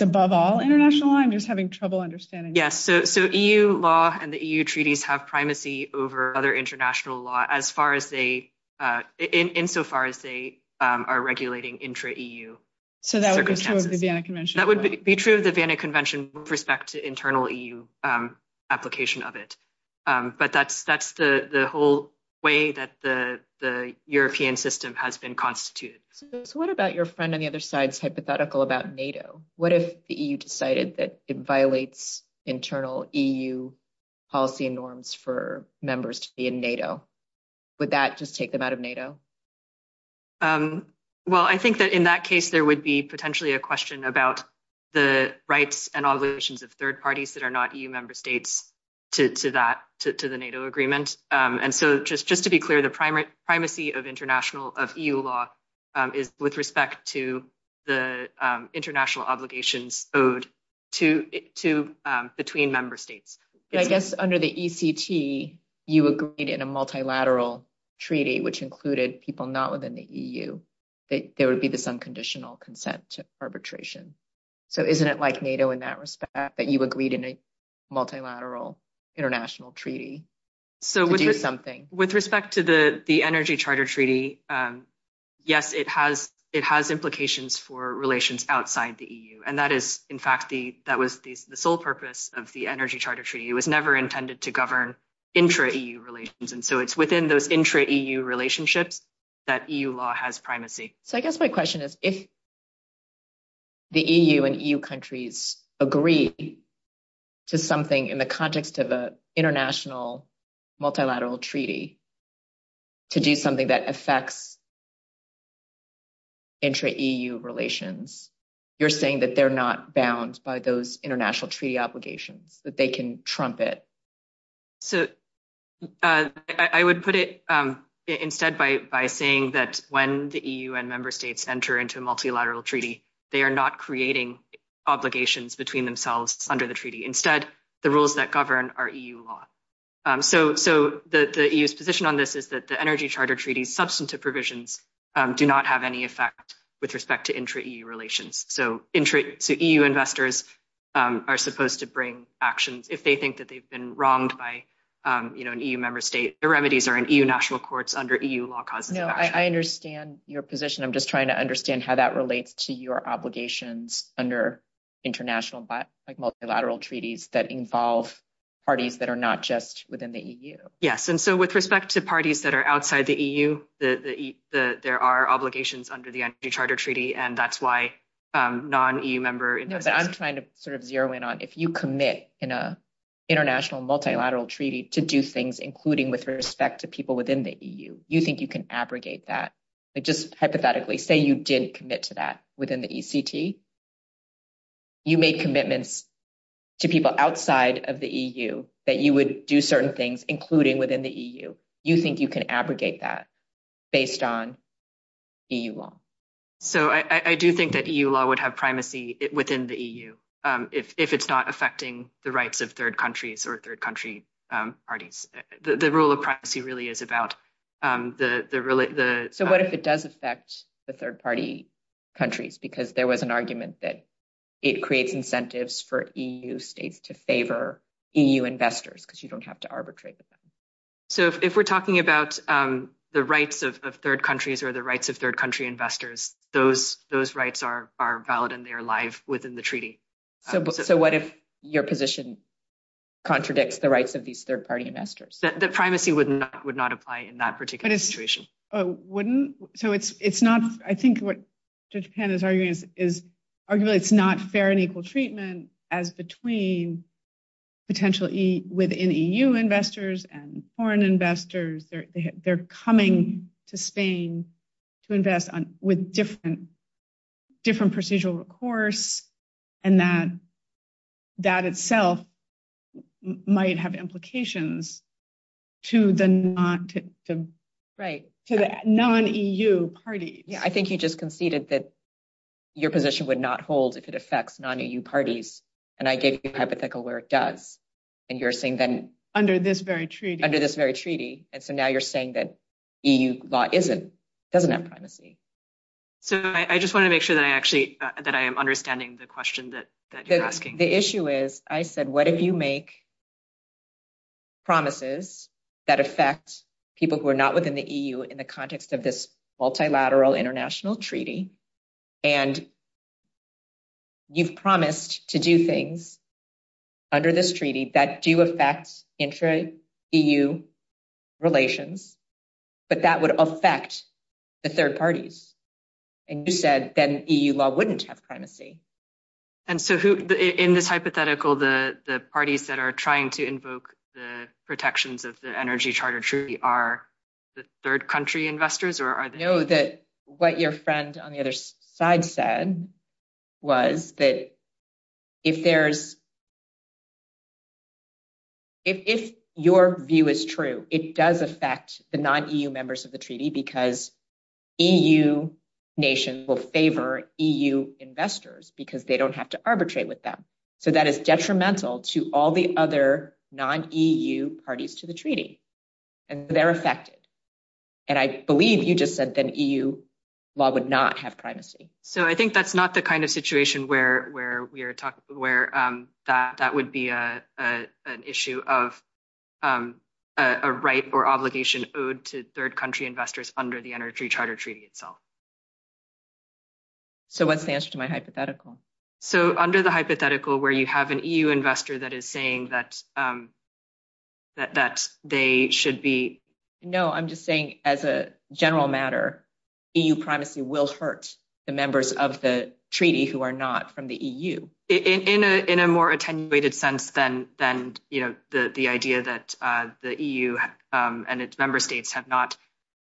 above all international law? I'm assuming that the EU treaties have primacy over other international law as far as they, insofar as they are regulating intra-EU. So that would be true of the Vienna Convention? That would be true of the Vienna Convention with respect to internal EU application of it. But that's the whole way that the European system has been constituted. What about your friend on the other side's hypothetical about NATO? What if the EU decided that it violates internal EU policy and norms for members to be in NATO? Would that just take them out of NATO? Well, I think that in that case, there would be potentially a question about the rights and obligations of third parties that are not EU member states to that, to the NATO agreement. And so just to be clear, the primacy of EU law is with respect to the international obligations owed to, between member states. I guess under the ECT, you agreed in a multilateral treaty, which included people not within the EU, that there would be this unconditional consent to arbitration. So isn't it like NATO in that respect that you agreed in a multilateral international treaty to do something? So with respect to the Energy Charter Treaty, yes, it has implications for relations outside the EU. And that is, in fact, that was the sole purpose of the Energy Charter Treaty. It was never intended to govern intra-EU relations. And so it's within those intra-EU relationships that EU law has primacy. So I guess my question is, if the EU and EU countries agree to something in the context of an multilateral treaty to do something that affects intra-EU relations, you're saying that they're not bound by those international treaty obligations, that they can trump it? So I would put it instead by saying that when the EU and member states enter into a multilateral treaty, they are not creating obligations between themselves under the treaty. Instead, the rules that govern our EU law. So the EU's position on this is that the Energy Charter Treaty's substantive provisions do not have any effect with respect to intra-EU relations. So intra-EU investors are supposed to bring actions if they think that they've been wronged by an EU member state. The remedies are in EU national courts under EU law. No, I understand your position. I'm just trying to understand how that relates to your obligations under international multilateral treaties that involve parties that are not just within the EU. Yes. And so with respect to parties that are outside the EU, there are obligations under the Energy Charter Treaty, and that's why non-EU member... No, but I'm trying to sort of zero in on if you commit in an international multilateral treaty to do things, including with respect to people within the EU, you think you can abrogate that. Just hypothetically, say you did commit to that within the ECT. You made commitments to people outside of the EU that you would do certain things, including within the EU. You think you can abrogate that based on EU law. So I do think that EU law would have primacy within the EU if it's not affecting the rights of third countries or third country parties. The rule of primacy really is about the... So what if it does affect the third party countries? Because there was an argument that it creates incentives for EU states to favor EU investors, because you don't have to arbitrate. So if we're talking about the rights of third countries or the rights of third country investors, those rights are valid and they're live within the treaty. So what if your position contradicts the rights of these third party investors? The primacy would not apply in that particular situation. It wouldn't? So it's not... I think what Judge Pan is arguing is arguably it's not fair and equal treatment as between potential within EU investors and foreign investors. They're coming to Spain to invest with different procedural recourse and that itself might have implications to the non-EU parties. Yeah, I think you just conceded that your position would not hold if it affects non-EU parties. And I gave you a hypothetical where it does. And you're saying then... Under this very treaty. Under this very treaty. And so now you're saying that EU law isn't, doesn't have primacy. So I just want to make sure that I actually, that I am understanding the question that you're asking. The issue is, I said, what if you make promises that affect people who are not within the EU in the context of this multilateral international treaty and you've promised to do things under this treaty that do affect intra-EU relations, but that would affect the third parties. And you said that an EU law wouldn't have primacy. And so who, in this hypothetical, the parties that are trying to invoke the protections of the energy charter treaty are the third country investors or are they... No, that what your friend on the other side said was that if there's... It does affect the non-EU members of the treaty because EU nation will favor EU investors because they don't have to arbitrate with them. So that is detrimental to all the other non-EU parties to the treaty and they're affected. And I believe you just said that EU law would not have primacy. So I think that's not the kind of situation where we are talking, where that would be an issue of a right or obligation owed to third country investors under the energy charter treaty itself. So what's the answer to my hypothetical? So under the hypothetical where you have an EU investor that is saying that they should be... No, I'm just saying as a general matter, EU primacy will hurt the members of the treaty who are not from the EU. In a more attenuated sense than the idea that the EU and its member states have not...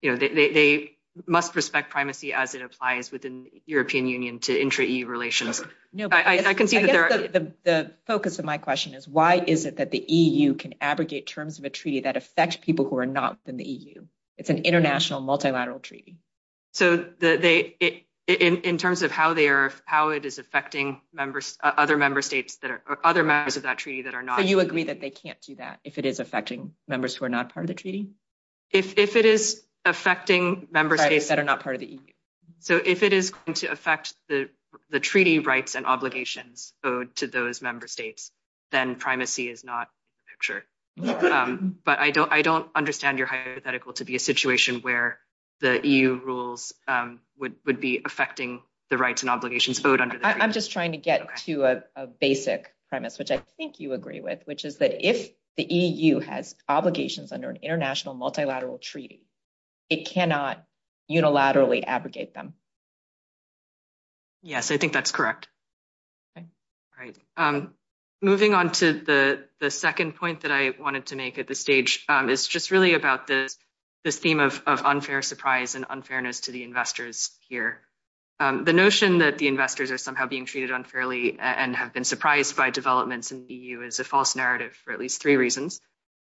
They must respect primacy as it applies within European Union to intra-EU relations. The focus of my question is why is it that the EU can abrogate terms of a treaty that affects people who are not from the EU? It's an international multilateral treaty. So in terms of how it is affecting other members of that treaty that are not... So you agree that they can't do that if it is affecting members who are not part of the treaty? If it is affecting member states that are not part of the EU. So if it is going to affect the treaty rights and obligations owed to those member states, then primacy is not pictured. But I don't understand your hypothetical to be a situation where the EU rules would be affecting the rights and obligations owed under the treaty. I'm just trying to get to a basic premise, which I think you agree with, which is that if the EU has obligations under an international multilateral treaty, it cannot unilaterally abrogate them. Yes, I think that's correct. Okay. All right. Moving on to the second point that I wanted to make at this stage, it's just really about the theme of unfair surprise and unfairness to the investors here. The notion that the investors are somehow being treated unfairly and have been surprised by developments in the EU is a false narrative for at least three reasons.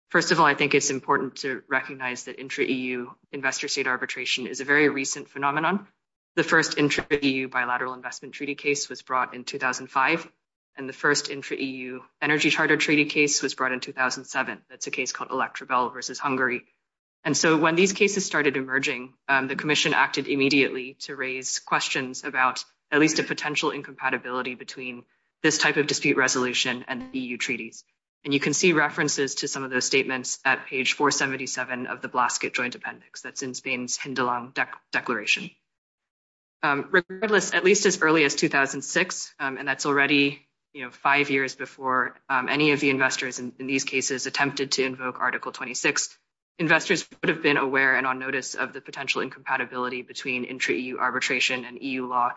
First of all, I think it's important to recognize that intra-EU investor-state arbitration is a recent phenomenon. The first intra-EU bilateral investment treaty case was brought in 2005, and the first intra-EU energy charter treaty case was brought in 2007. That's a case called Electro-Bell versus Hungary. And so when these cases started emerging, the commission acted immediately to raise questions about at least the potential incompatibility between this type of dispute resolution and EU treaties. And you can see references to some of those statements at page 477 of the Blasket Joint Appendix. That's in Spain's Hindalong Declaration. Regardless, at least as early as 2006, and that's already five years before any of the investors in these cases attempted to invoke Article 26, investors would have been aware and on notice of the potential incompatibility between intra-EU arbitration and EU law,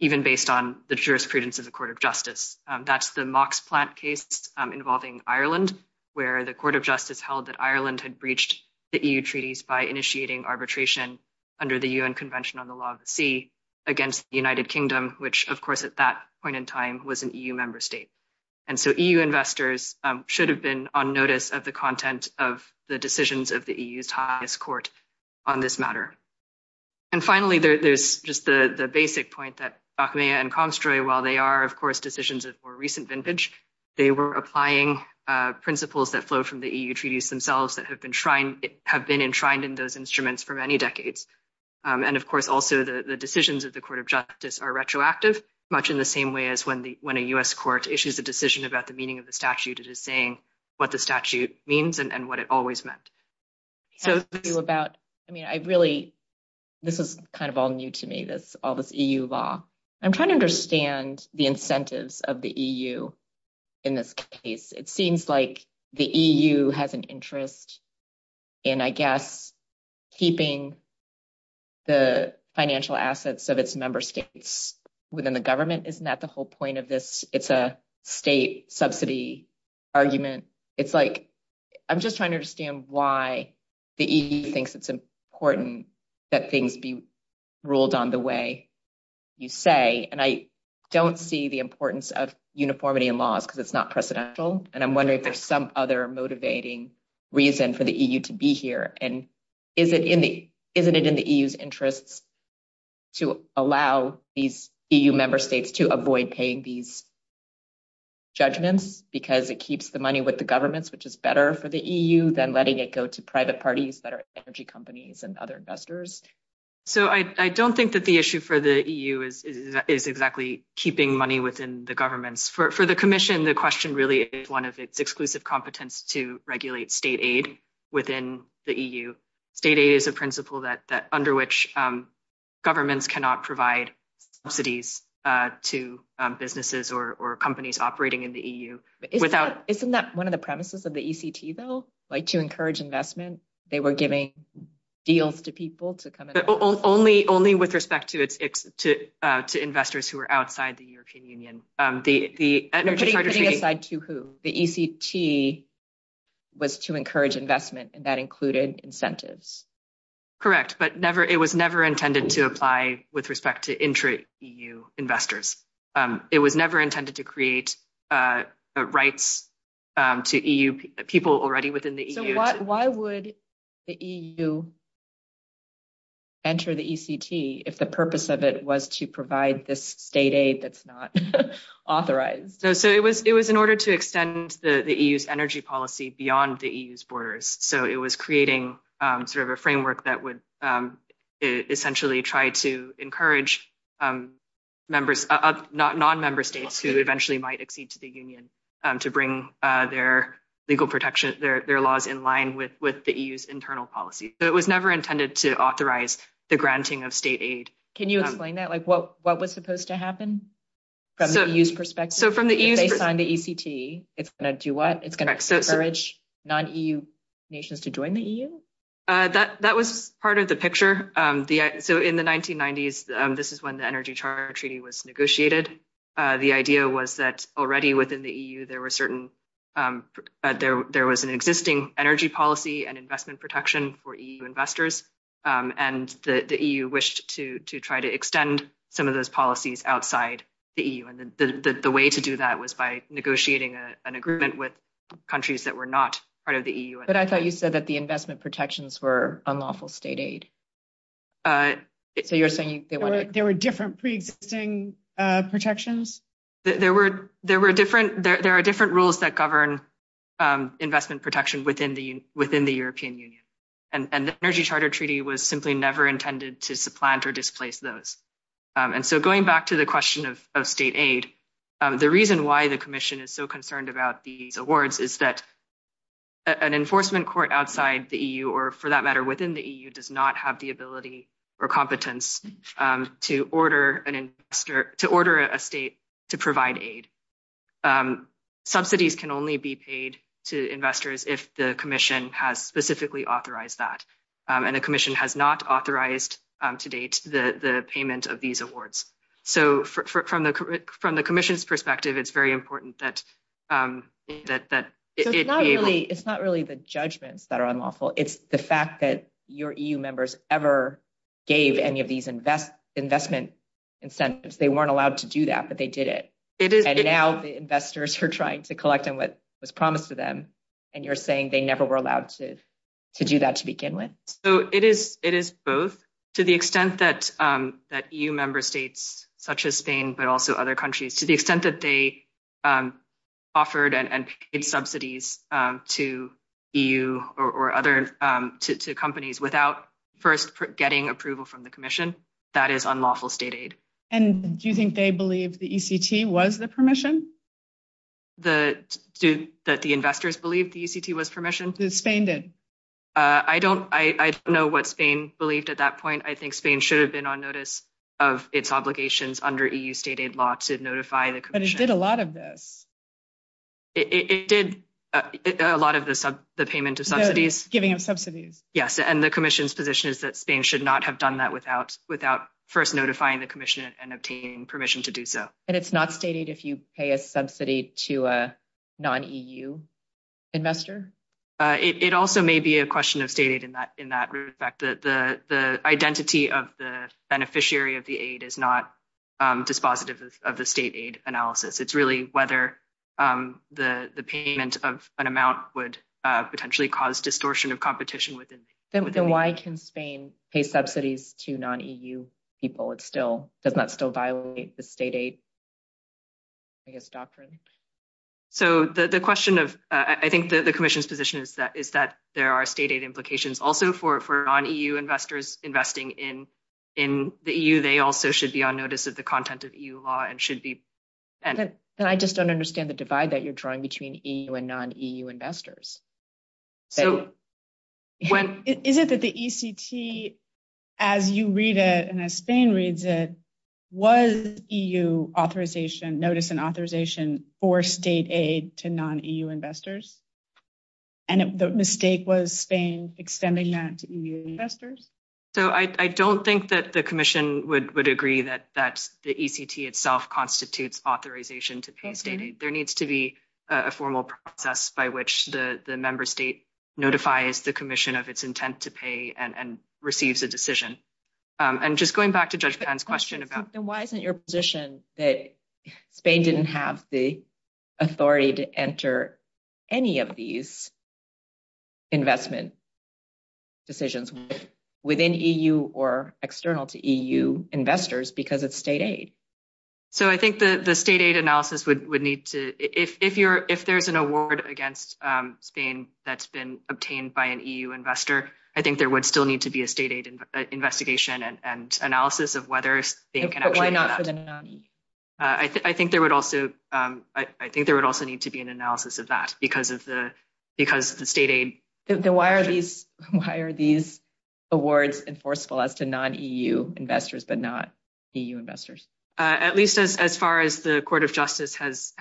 even based on the jurisprudence of the court of justice. That's the Mox plant case involving Ireland, where the court of justice held that Ireland had breached the EU treaties by initiating arbitration under the UN Convention on the Law of the Sea against the United Kingdom, which, of course, at that point in time was an EU member state. And so EU investors should have been on notice of the content of the decisions of the EU's highest court on this matter. And finally, there's just the basic point that Acmea and Comstroy, while they are, of course, a more recent vintage, they were applying principles that flow from the EU treaties themselves that have been enshrined in those instruments for many decades. And, of course, also the decisions of the court of justice are retroactive, much in the same way as when a US court issues a decision about the meaning of the statute, it is saying what the statute means and what it always meant. I mean, I really, this is kind of all new to me, all this EU law. I'm trying to understand the incentives of the EU in this case. It seems like the EU has an interest in, I guess, keeping the financial assets of its member states within the government. Isn't that the whole point of this? It's a state subsidy argument. It's like, I'm just trying to understand why the EU thinks it's important that things be ruled on the way you say. And I don't see the importance of uniformity in laws because it's not precedential. And I'm wondering if there's some other motivating reason for the EU to be here. And isn't it in the EU's interest to allow these EU member states to avoid paying these judgments because it keeps the money with governments, which is better for the EU than letting it go to private parties that are energy companies and other investors? So I don't think that the issue for the EU is exactly keeping money within the governments. For the commission, the question really is one of the exclusive competence to regulate state aid within the EU. State aid is a principle that under which governments cannot provide subsidies to businesses or companies operating in the EU. Isn't that one of the premises of the ECT though? Like to encourage investment, they were giving deals to people to come in? Only with respect to investors who are outside the European Union. Putting aside to who? The ECT was to encourage investment and that included incentives. Correct. But it was never intended to apply with respect to intra-EU investors. It was never intended to create rights to EU people already within the EU. Why would the EU enter the ECT if the purpose of it was to provide this state aid that's not authorized? So it was in order to extend the EU's energy policy beyond the EU's borders. So it was creating sort of a framework that would essentially try to encourage non-member states who eventually might accede to the union to bring their legal protections, their laws in line with the EU's internal policy. So it was never intended to authorize the granting of state aid. Can you explain that? Like what was supposed to happen from the EU's perspective? So based on the ECT, it's going to do what? It's going to encourage non-EU nations to join the EU? That was part of the picture. So in the 1990s, this is when the Energy Charter Treaty was negotiated. The idea was that already within the EU, there was an existing energy policy and investment protection for EU investors. And the EU wished to try to extend some of those policies outside the EU. And the way to do that was by negotiating an agreement with countries that were not part of the EU. But I thought you said that the investment protections were unlawful state aid. So you're saying there were different pre-existing protections? There are different rules that govern investment protection within the European Union. And the Energy Charter Treaty was simply never intended to supplant or displace those. And so going back to the question of state aid, the reason why the commission is so concerned about these awards is that an enforcement court outside the EU or for that matter within the EU does not have the ability or competence to order a state to provide aid. Subsidies can only be paid to investors if the commission has specifically authorized that. And the commission has not authorized to date the from the commission's perspective. It's very important that it's not really the judgments that are unlawful. It's the fact that your EU members ever gave any of these investment incentives. They weren't allowed to do that, but they did it. And now the investors are trying to collect on what was promised to them. And you're saying they never were allowed to do that to begin with. So it is both to the extent that EU member states, such as Spain, but also other countries, to the extent that they offered and paid subsidies to EU or other companies without first getting approval from the commission, that is unlawful state aid. And do you think they believe the ECT was the permission? That the investors believe the ECT was permission? Spain did. I don't know what Spain believed at that point. I think Spain should have been on notice of its obligations under EU state aid law to notify the commission. But it did a lot of this. It did a lot of the payment of subsidies. Giving them subsidies. Yes. And the commission's position is that Spain should not have done that without first notifying the commission and obtaining permission to do so. And it's not stated if you pay a subsidy to a non-EU investor? It also may be a question of state aid in that respect. The identity of the beneficiary of the aid is not dispositive of the state aid analysis. It's really whether the payment of an amount would potentially cause distortion of competition within the aid. Then why can Spain pay subsidies to non-EU people that still violate the state aid policy? I think it's doctrine. So the question of, I think the commission's position is that there are state aid implications also for non-EU investors investing in the EU. They also should be on notice of the content of EU law and should be. And I just don't understand the divide that you're drawing between EU and non-EU investors. Is it that the ECT as you read it and Spain reads it, was EU notice and authorization for state aid to non-EU investors? And the mistake was Spain extending that to EU investors? So I don't think that the commission would agree that the ECT itself constitutes authorization to pay state aid. There needs to be a formal process by which the member state notifies the commission of its intent to pay and receives a decision. And just going back to Judge Dan's question about- Then why isn't your position that Spain didn't have the authority to enter any of these investment decisions within EU or external to EU investors because of state aid? So I think the state aid analysis would need to, if there's an award against Spain that's obtained by an EU investor, I think there would still need to be a state aid investigation and analysis of whether Spain can- But why not the non-EU? I think there would also need to be an analysis of that because of the state aid. Why are these awards enforceable as to non-EU investors but not EU investors? At least as far as the court of justice has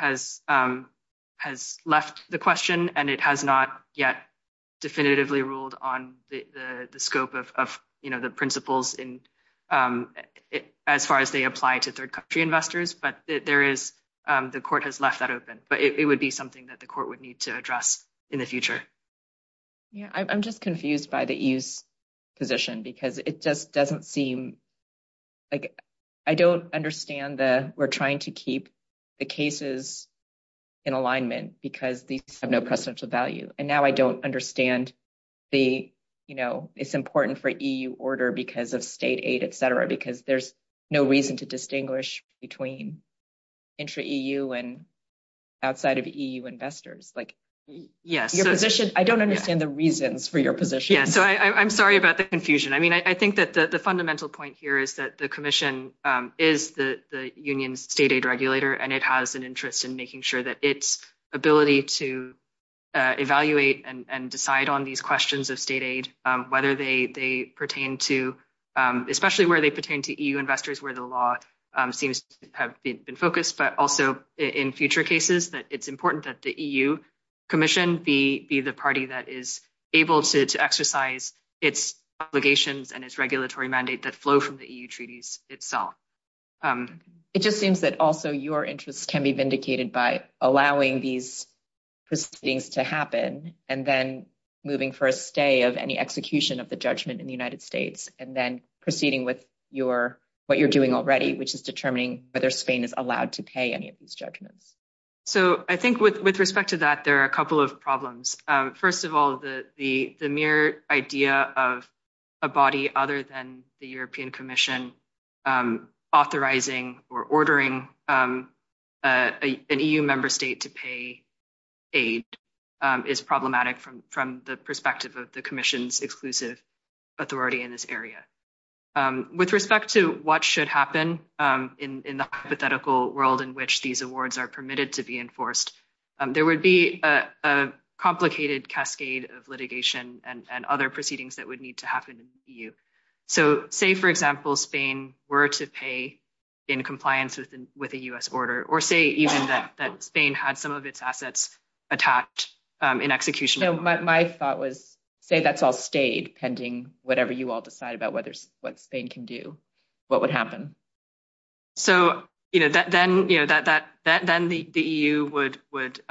left the question and it has not yet definitively ruled on the scope of the principles as far as they apply to third country investors, but the court has left that open. But it would be something that the court would need to address in the future. I'm just confused by the EU's position because it just doesn't seem- I don't understand that we're trying to keep the cases in alignment because these have no precedential value. And now I don't understand it's important for EU order because of state aid, et cetera, because there's no reason to distinguish between intra-EU and outside of EU investors. I don't understand the reasons for your position. Yeah. So I'm sorry about the confusion. I think that the fundamental point here is that the commission is the union state aid regulator and it has an interest in making sure that its ability to evaluate and decide on these questions of state aid, whether they pertain to, especially where they pertain to EU investors where the law seems to have been focused, but also in future cases that it's important that the EU commission be the party that is able to exercise its obligations and its regulatory mandate that flow from the EU treaties itself. It just seems that also your interests can be vindicated by allowing these proceedings to happen and then moving for a stay of any execution of the judgment in the United States, and then proceeding with what you're doing already, which is determining whether Spain is allowed to pay any of these judgments. So I think with respect to that, there are a couple of problems. First of all, the mere idea of a body other than the European commission authorizing or ordering an EU member state to pay aid is problematic from the perspective of the commission's exclusive authority in this area. With respect to what should happen in the hypothetical world in which these awards are permitted to be enforced, there would be a complicated cascade of litigation and other proceedings that would need to happen in the EU. So say, for example, Spain were to pay in compliance with the US order, or say even that Spain had some of its assets attacked in execution. So my thought was, say that's all stayed pending whatever you all decide about what Spain can do, what would happen? So then the EU would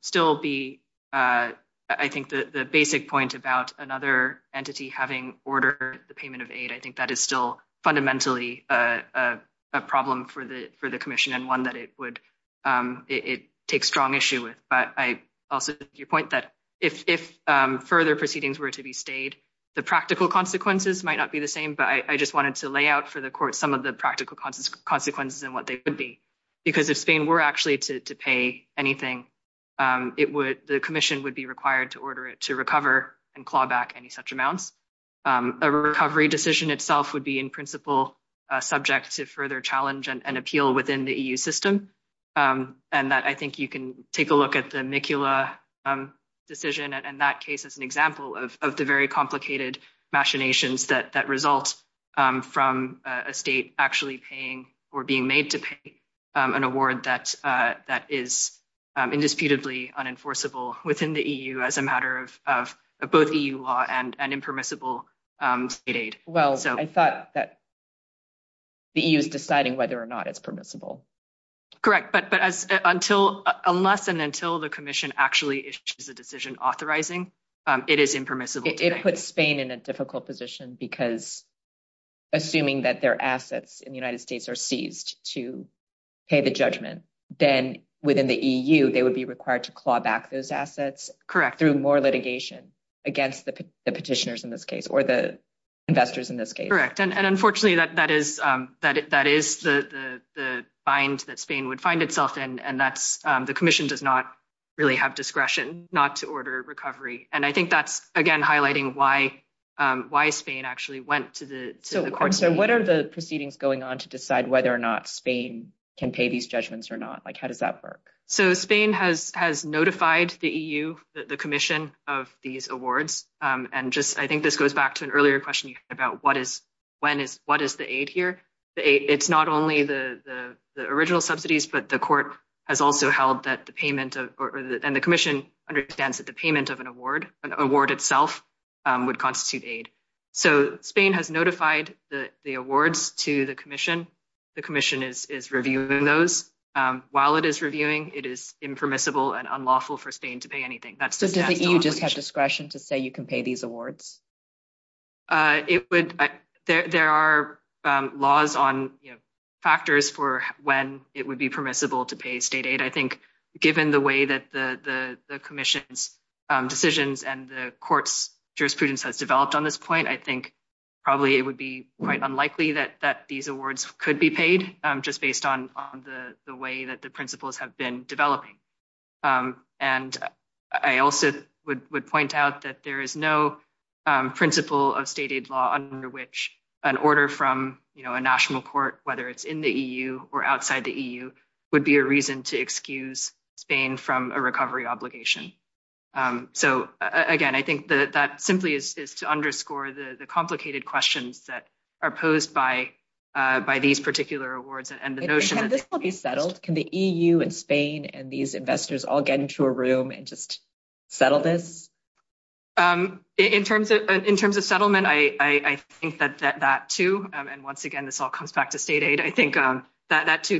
still be, I think the basic point about another entity having ordered the payment of aid, I think that is still fundamentally a problem for the commission and one that it would take strong issue with. But I also think your point that if further proceedings were to be stayed, the practical consequences might not be the same, but I just lay out for the court some of the practical consequences and what they would be. Because if Spain were actually to pay anything, the commission would be required to order it to recover and claw back any such amounts. A recovery decision itself would be in principle subject to further challenge and appeal within the EU system. And that I think you can take a look at the amicula decision and that case is an example of the very complicated machinations that result from a state actually paying or being made to pay an award that is indisputably unenforceable within the EU as a matter of both EU law and impermissible state aid. Well, I thought that the EU is deciding whether or not it's permissible. Correct. But unless and until the commission actually issues a decision authorizing, it is impermissible. It puts Spain in a difficult position because assuming that their assets in the United States are seized to pay the judgment, then within the EU, they would be required to claw back those assets. Correct. Through more litigation against the petitioners in this case or the investors in this case. Correct. And unfortunately, that is the bind that Spain would find itself in. And the commission does not really have discretion not to order recovery. And I think that's, again, highlighting why Spain actually went to the court. So what are the proceedings going on to decide whether or not Spain can pay these judgments or not? Like, how does that work? So Spain has notified the EU, the commission of these awards. And just I think this goes back to an earlier question about what is, when is, what is the aid here? It's not only the original subsidies, but the court has also held that the payment of, and the commission understands that the payment of an award, an award itself, would constitute aid. So Spain has notified the awards to the commission. The commission is reviewing those. While it is reviewing, it is impermissible and unlawful for Spain to pay anything. So does the EU just have discretion to say you can pay these awards? It would, there are laws on factors for when it would be permissible to pay state aid. I think given the way that the commission's decisions and the court's jurisprudence has developed on this point, I think probably it would be quite unlikely that these awards could be paid just based on the way that the principles have been developing. And I also would point out that there is no principle of state aid law under which an order from, you know, a national court, whether it's in the EU or outside the EU, would be a reason to excuse Spain from a recovery obligation. So again, I think that that simply is to underscore the complicated questions that are posed by, by these particular awards and the notion that this will be settled. Can the EU and Spain and these investors all get into a room and just settle this? In terms of, in terms of I think that that too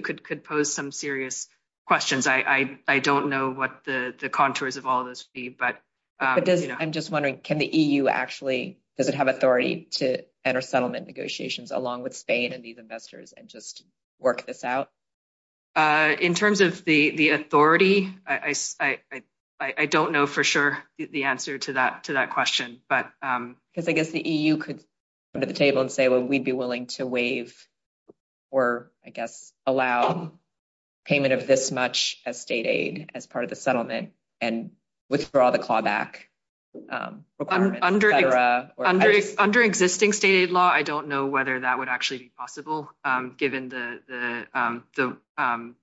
could, could pose some serious questions. I, I, I don't know what the, the contours of all this would be, but. I'm just wondering, can the EU actually, does it have authority to enter settlement negotiations along with Spain and these investors and just work this out? In terms of the, the authority, I, I, I, I don't know for sure the answer to that, to that question, but. Because I guess the EU could come to the table and say, well, we'd be willing to waive or I guess allow payment of this much as state aid as part of the settlement and withdraw the clawback. Under, under, under existing state aid law, I don't know whether that would actually be possible given the, the, the,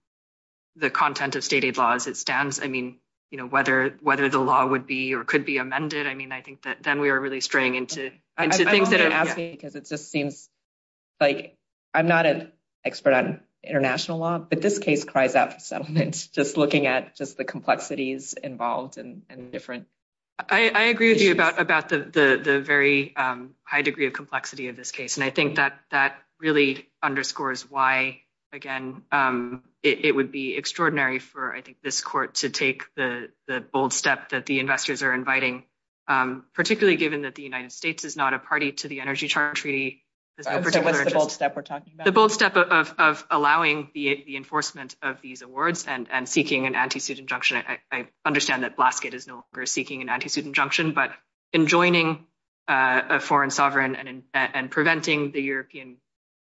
the content of state aid laws it stands. I mean, you know, whether, whether the law would be or could be amended. I mean, I think that then we were really straying into, into things that are happening because it just seems like I'm not an expert on international law, but this case cries out for settlement, just looking at just the complexities involved and different. I, I agree with you about, about the, the, the very high degree of complexity of this case. And I think that, that really underscores why, again, it would be extraordinary for, I think this court to take the, the bold step that the particularly given that the United States is not a party to the energy charge treaty. The bold step of, of, of allowing the enforcement of these awards and, and seeking an anti-student junction. I understand that Blaskett is no longer seeking an anti-student junction, but enjoining a foreign sovereign and preventing the European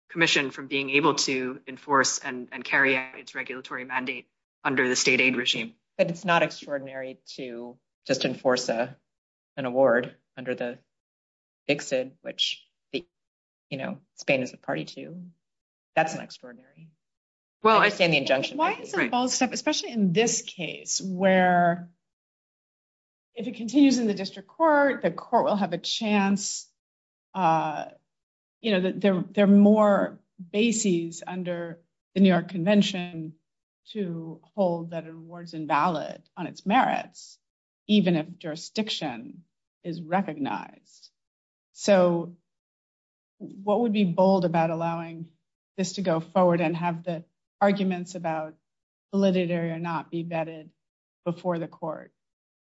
commission from being able to enforce and carry out its regulatory mandate under the state aid regime. And it's not extraordinary to just enforce a, an award under the exit, which, you know, Spain is a party to, that's an extraordinary. Well, I think the bold step, especially in this case where if it continues in the district court, the court will have a chance. You know, there, there are more bases under the New York convention to hold that awards on its merits, even if jurisdiction is recognized. So what would be bold about allowing this to go forward and have the arguments about validity or not be vetted before the court?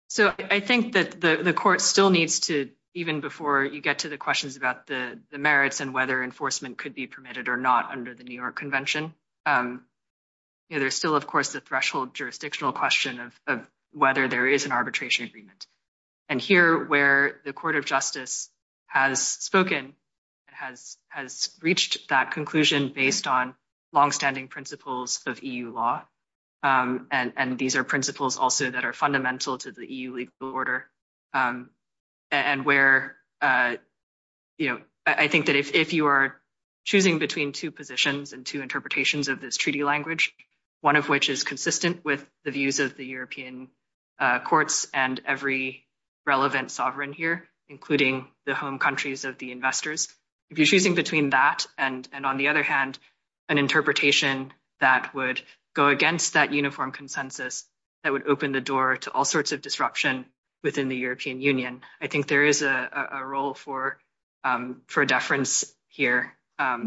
So I think that the court still needs to, even before you get to the questions about the merits and whether enforcement could be permitted or not under the New York convention. You know, of course, the threshold jurisdictional question of whether there is an arbitration agreement. And here where the court of justice has spoken, has, has reached that conclusion based on longstanding principles of EU law. And, and these are principles also that are fundamental to the EU legal order. And where, you know, I think that if, if you are choosing between two positions and two interpretations of this treaty language, one of which is consistent with the views of the European courts and every relevant sovereign here, including the home countries of the investors, if you're choosing between that and, and on the other hand, an interpretation that would go against that uniform consensus, that would open the door to all sorts of disruption within the European union. I think there is a role for, for deference here.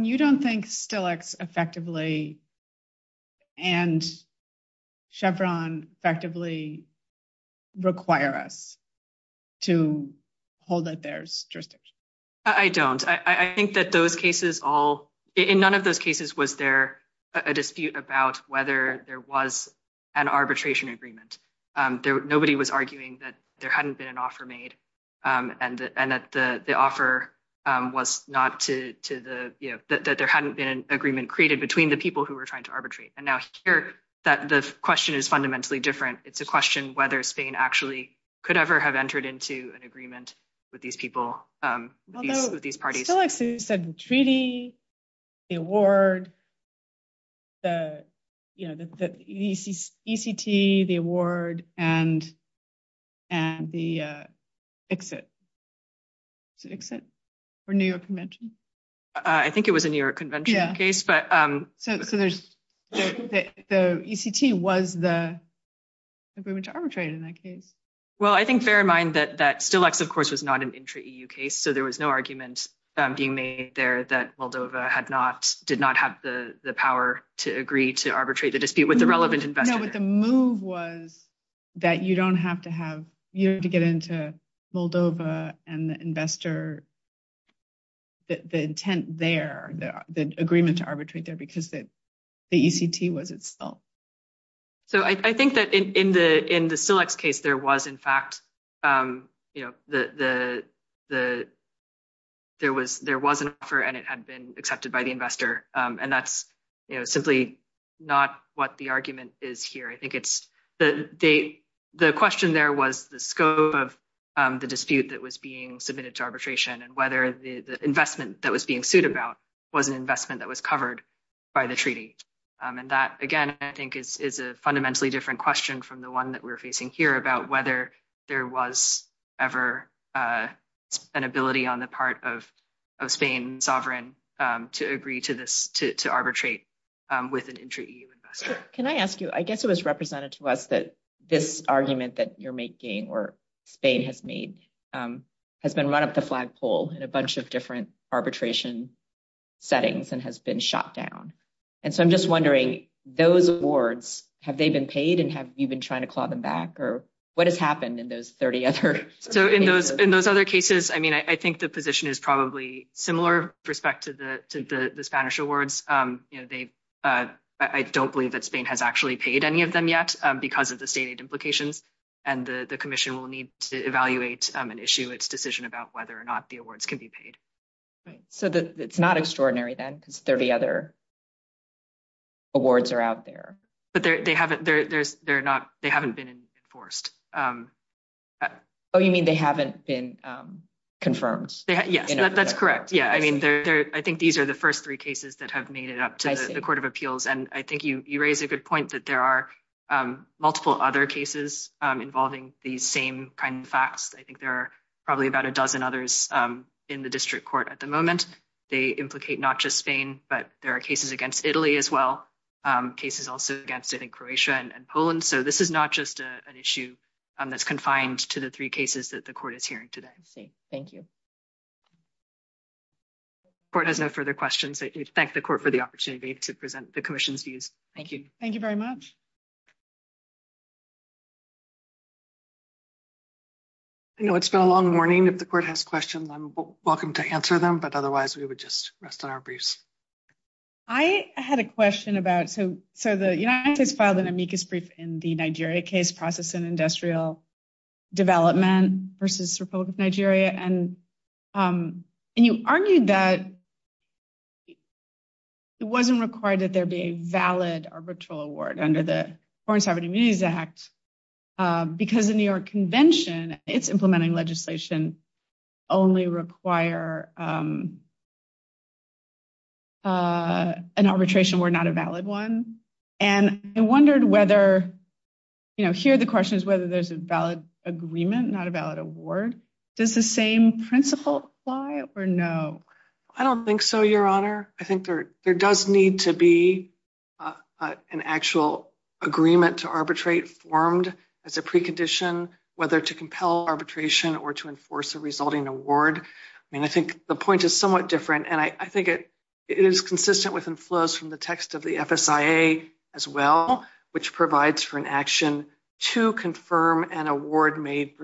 You don't think still X effectively and Chevron effectively require us to hold that there's dristers. I don't, I think that those cases all in none of those cases, was there a dispute about whether there was an arbitration agreement there, nobody was arguing that there hadn't been an was not to, to the, you know, that, that there hadn't been an agreement created between the people who were trying to arbitrate. And now that the question is fundamentally different. It's a question, whether Spain actually could ever have entered into an agreement with these people, with these parties. I feel like you said the treaty, the award, the, you know, the, the ECT, the award and, and the exit exit for New York convention. I think it was a New York convention case, but so there's the ECT was the agreement to arbitrate in that case. Well, I think bear in mind that that still X, of course, is not an entry case. So there was no argument being made there that Moldova had not, did not have the power to agree to arbitrate the dispute with the relevant. No, but the move was that you don't have to have, you have to get into Moldova and the investor. The intent there, the agreement to arbitrate that because that the ECT was itself. So I think that in the, in the select case, there was in fact, you know, the, the, the, there was an offer and it had been accepted by the investor. And that's simply not what the argument is here. I think it's the date, the question there was the scope of the dispute that was being submitted to arbitration and whether the investment that was being sued about was an investment that was covered by the treaty. And that, again, I think is a fundamentally different question from the one that we're facing here about whether there was ever an ability on the part of, of Spain sovereign to agree to this, to, to arbitrate with an entry investor. Can I ask you, I guess it was represented to us that this argument that you're making, or Spain has made, has been run up the flagpole in a bunch of different arbitration settings and has been shot down. And so I'm just wondering those awards, have they been paid and have you been trying to claw them back or what has happened in those 30 other cases? So in those, in those other cases, I mean, I think the position is probably similar respect to the, to the Spanish awards. You know, they, I don't believe that Spain has actually paid any of them yet because of the stated implications and the commission will need to evaluate an issue, its decision about whether or not the awards can be paid. So it's not extraordinary then because 30 other awards are out there. But they haven't, they're, they're, they're not, they haven't been enforced. Oh, you mean they haven't been confirmed? Yeah, that's correct. Yeah. I mean, I think these are the first three cases that have made it up to the court of appeals. And I think you, you raised a good point that there are multiple other cases involving the same kind of facts. I think there are probably about a dozen others in the district court at the moment. They implicate not just Spain, but there are cases against Italy as well. Cases also against it in Croatia and Poland. So this is not just an issue that's confined to the three cases that the court is hearing today. Thank you. Court has no further questions. Thank the court for the opportunity to present the commission's views. Thank you. Thank you very much. I know it's been a long morning. If the court has questions, I'm welcome to answer them, but otherwise we would just rest on our briefs. I had a question about, so the United States filed an amicus brief in the Nigeria case, process and industrial development versus Republic of Nigeria. And you argued that it wasn't required that there be a valid arbitral award under the Foreign Sovereign only require an arbitration were not a valid one. And I wondered whether, you know, here the question is whether there's a valid agreement, not a valid award. Does the same principle apply or no? I don't think so, Your Honor. I think there does need to be an actual agreement to arbitrate formed as a precondition, whether to compel arbitration or to enforce a resulting award. I mean, I think the point is somewhat different and I think it is consistent with and flows from the text of the FSIA as well, which provides for an action to confirm an award made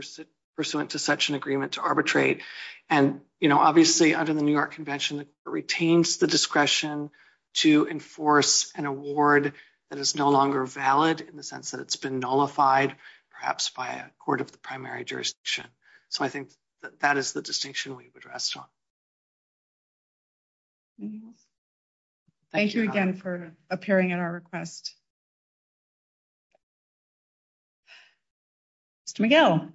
pursuant to such an agreement to arbitrate. And, you know, obviously under the New York convention, it retains the discretion to enforce an award that is no longer valid in the sense that it's been nullified perhaps by a court of the primary jurisdiction. So I think that is the distinction we've addressed. Thank you again for appearing in our request. Mr. McGill.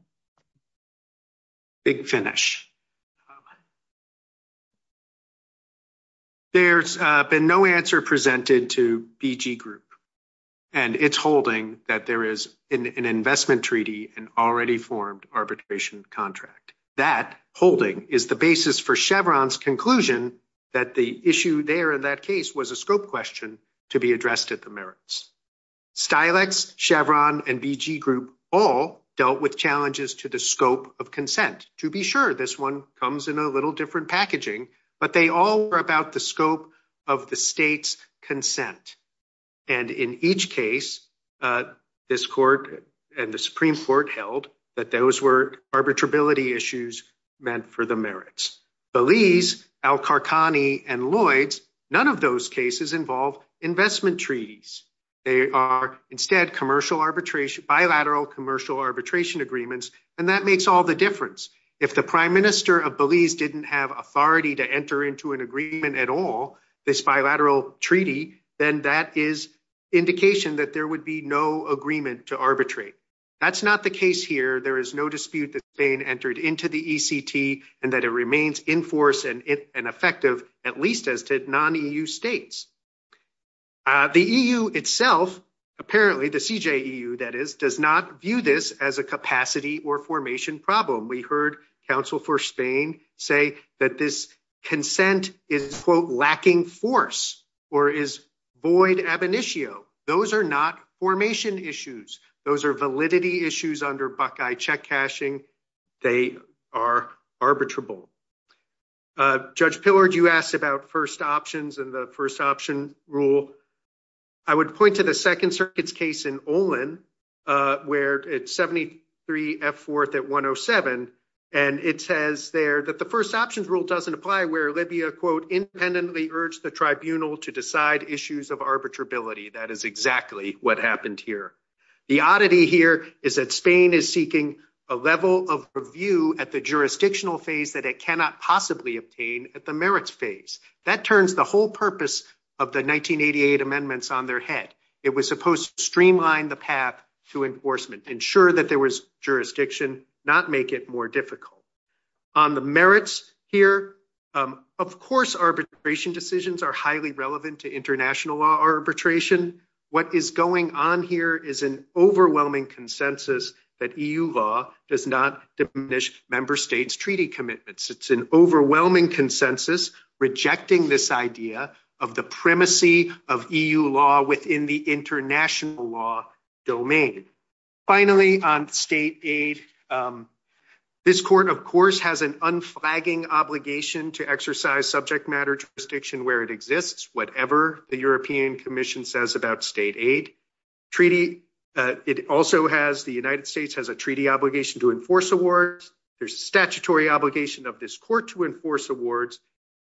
Big finish. There's been no answer presented to BG Group and it's holding that there is an investment treaty and already formed arbitration contract. That holding is the basis for Chevron's conclusion that the issue there in that case was a scope question to be addressed at the merits. Stilex, Chevron, and BG Group all dealt with challenges to the scope of consent. To be sure, this one comes in a little different packaging, but they all were about the scope of the state's consent. And in each case, this court and the Supreme Court held that those were arbitrability issues meant for the merits. Belize, Al-Qarqani, and Lloyds, none of those cases involve investment treaties. They are instead bilateral commercial arbitration agreements, and that makes all the difference. If the prime minister of Belize didn't have authority to enter into an agreement at all, this bilateral treaty, then that is indication that there would be no agreement to arbitrate. That's not the case here. There is no dispute that Spain entered into the ECT and that it remains in force and effective, at least as to non-EU states. The EU itself, apparently the CJEU, that is, does not view this as a capacity or formation problem. We heard Council for Spain say that this consent is, quote, lacking force or is void ab initio. Those are not formation issues. Those are validity issues under Buckeye check cashing. They are arbitrable. Judge Pillard, you asked about first options and the first option rule. I would point to the first options rule doesn't apply where Libya, quote, independently urged the tribunal to decide issues of arbitrability. That is exactly what happened here. The oddity here is that Spain is seeking a level of review at the jurisdictional phase that it cannot possibly obtain at the merits phase. That turns the whole purpose of the 1988 amendments on their head. It was supposed to streamline the path to enforcement, ensure that there was jurisdiction, not make it more difficult. On the merits here, of course, arbitration decisions are highly relevant to international law arbitration. What is going on here is an overwhelming consensus that EU law does not diminish member states' treaty commitments. It's an overwhelming consensus rejecting this idea of the primacy of EU law within the international law domain. Finally, on state aid, this court, of course, has an unflagging obligation to exercise subject matter jurisdiction where it exists, whatever the European Commission says about state aid. The United States has a treaty obligation to enforce awards. There's a statutory obligation of this court to enforce awards.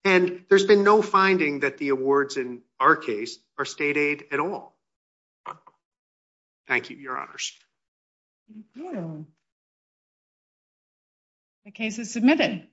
There's been no finding that the awards in our case are state aid at all. Thank you, Your Honors. The case is submitted.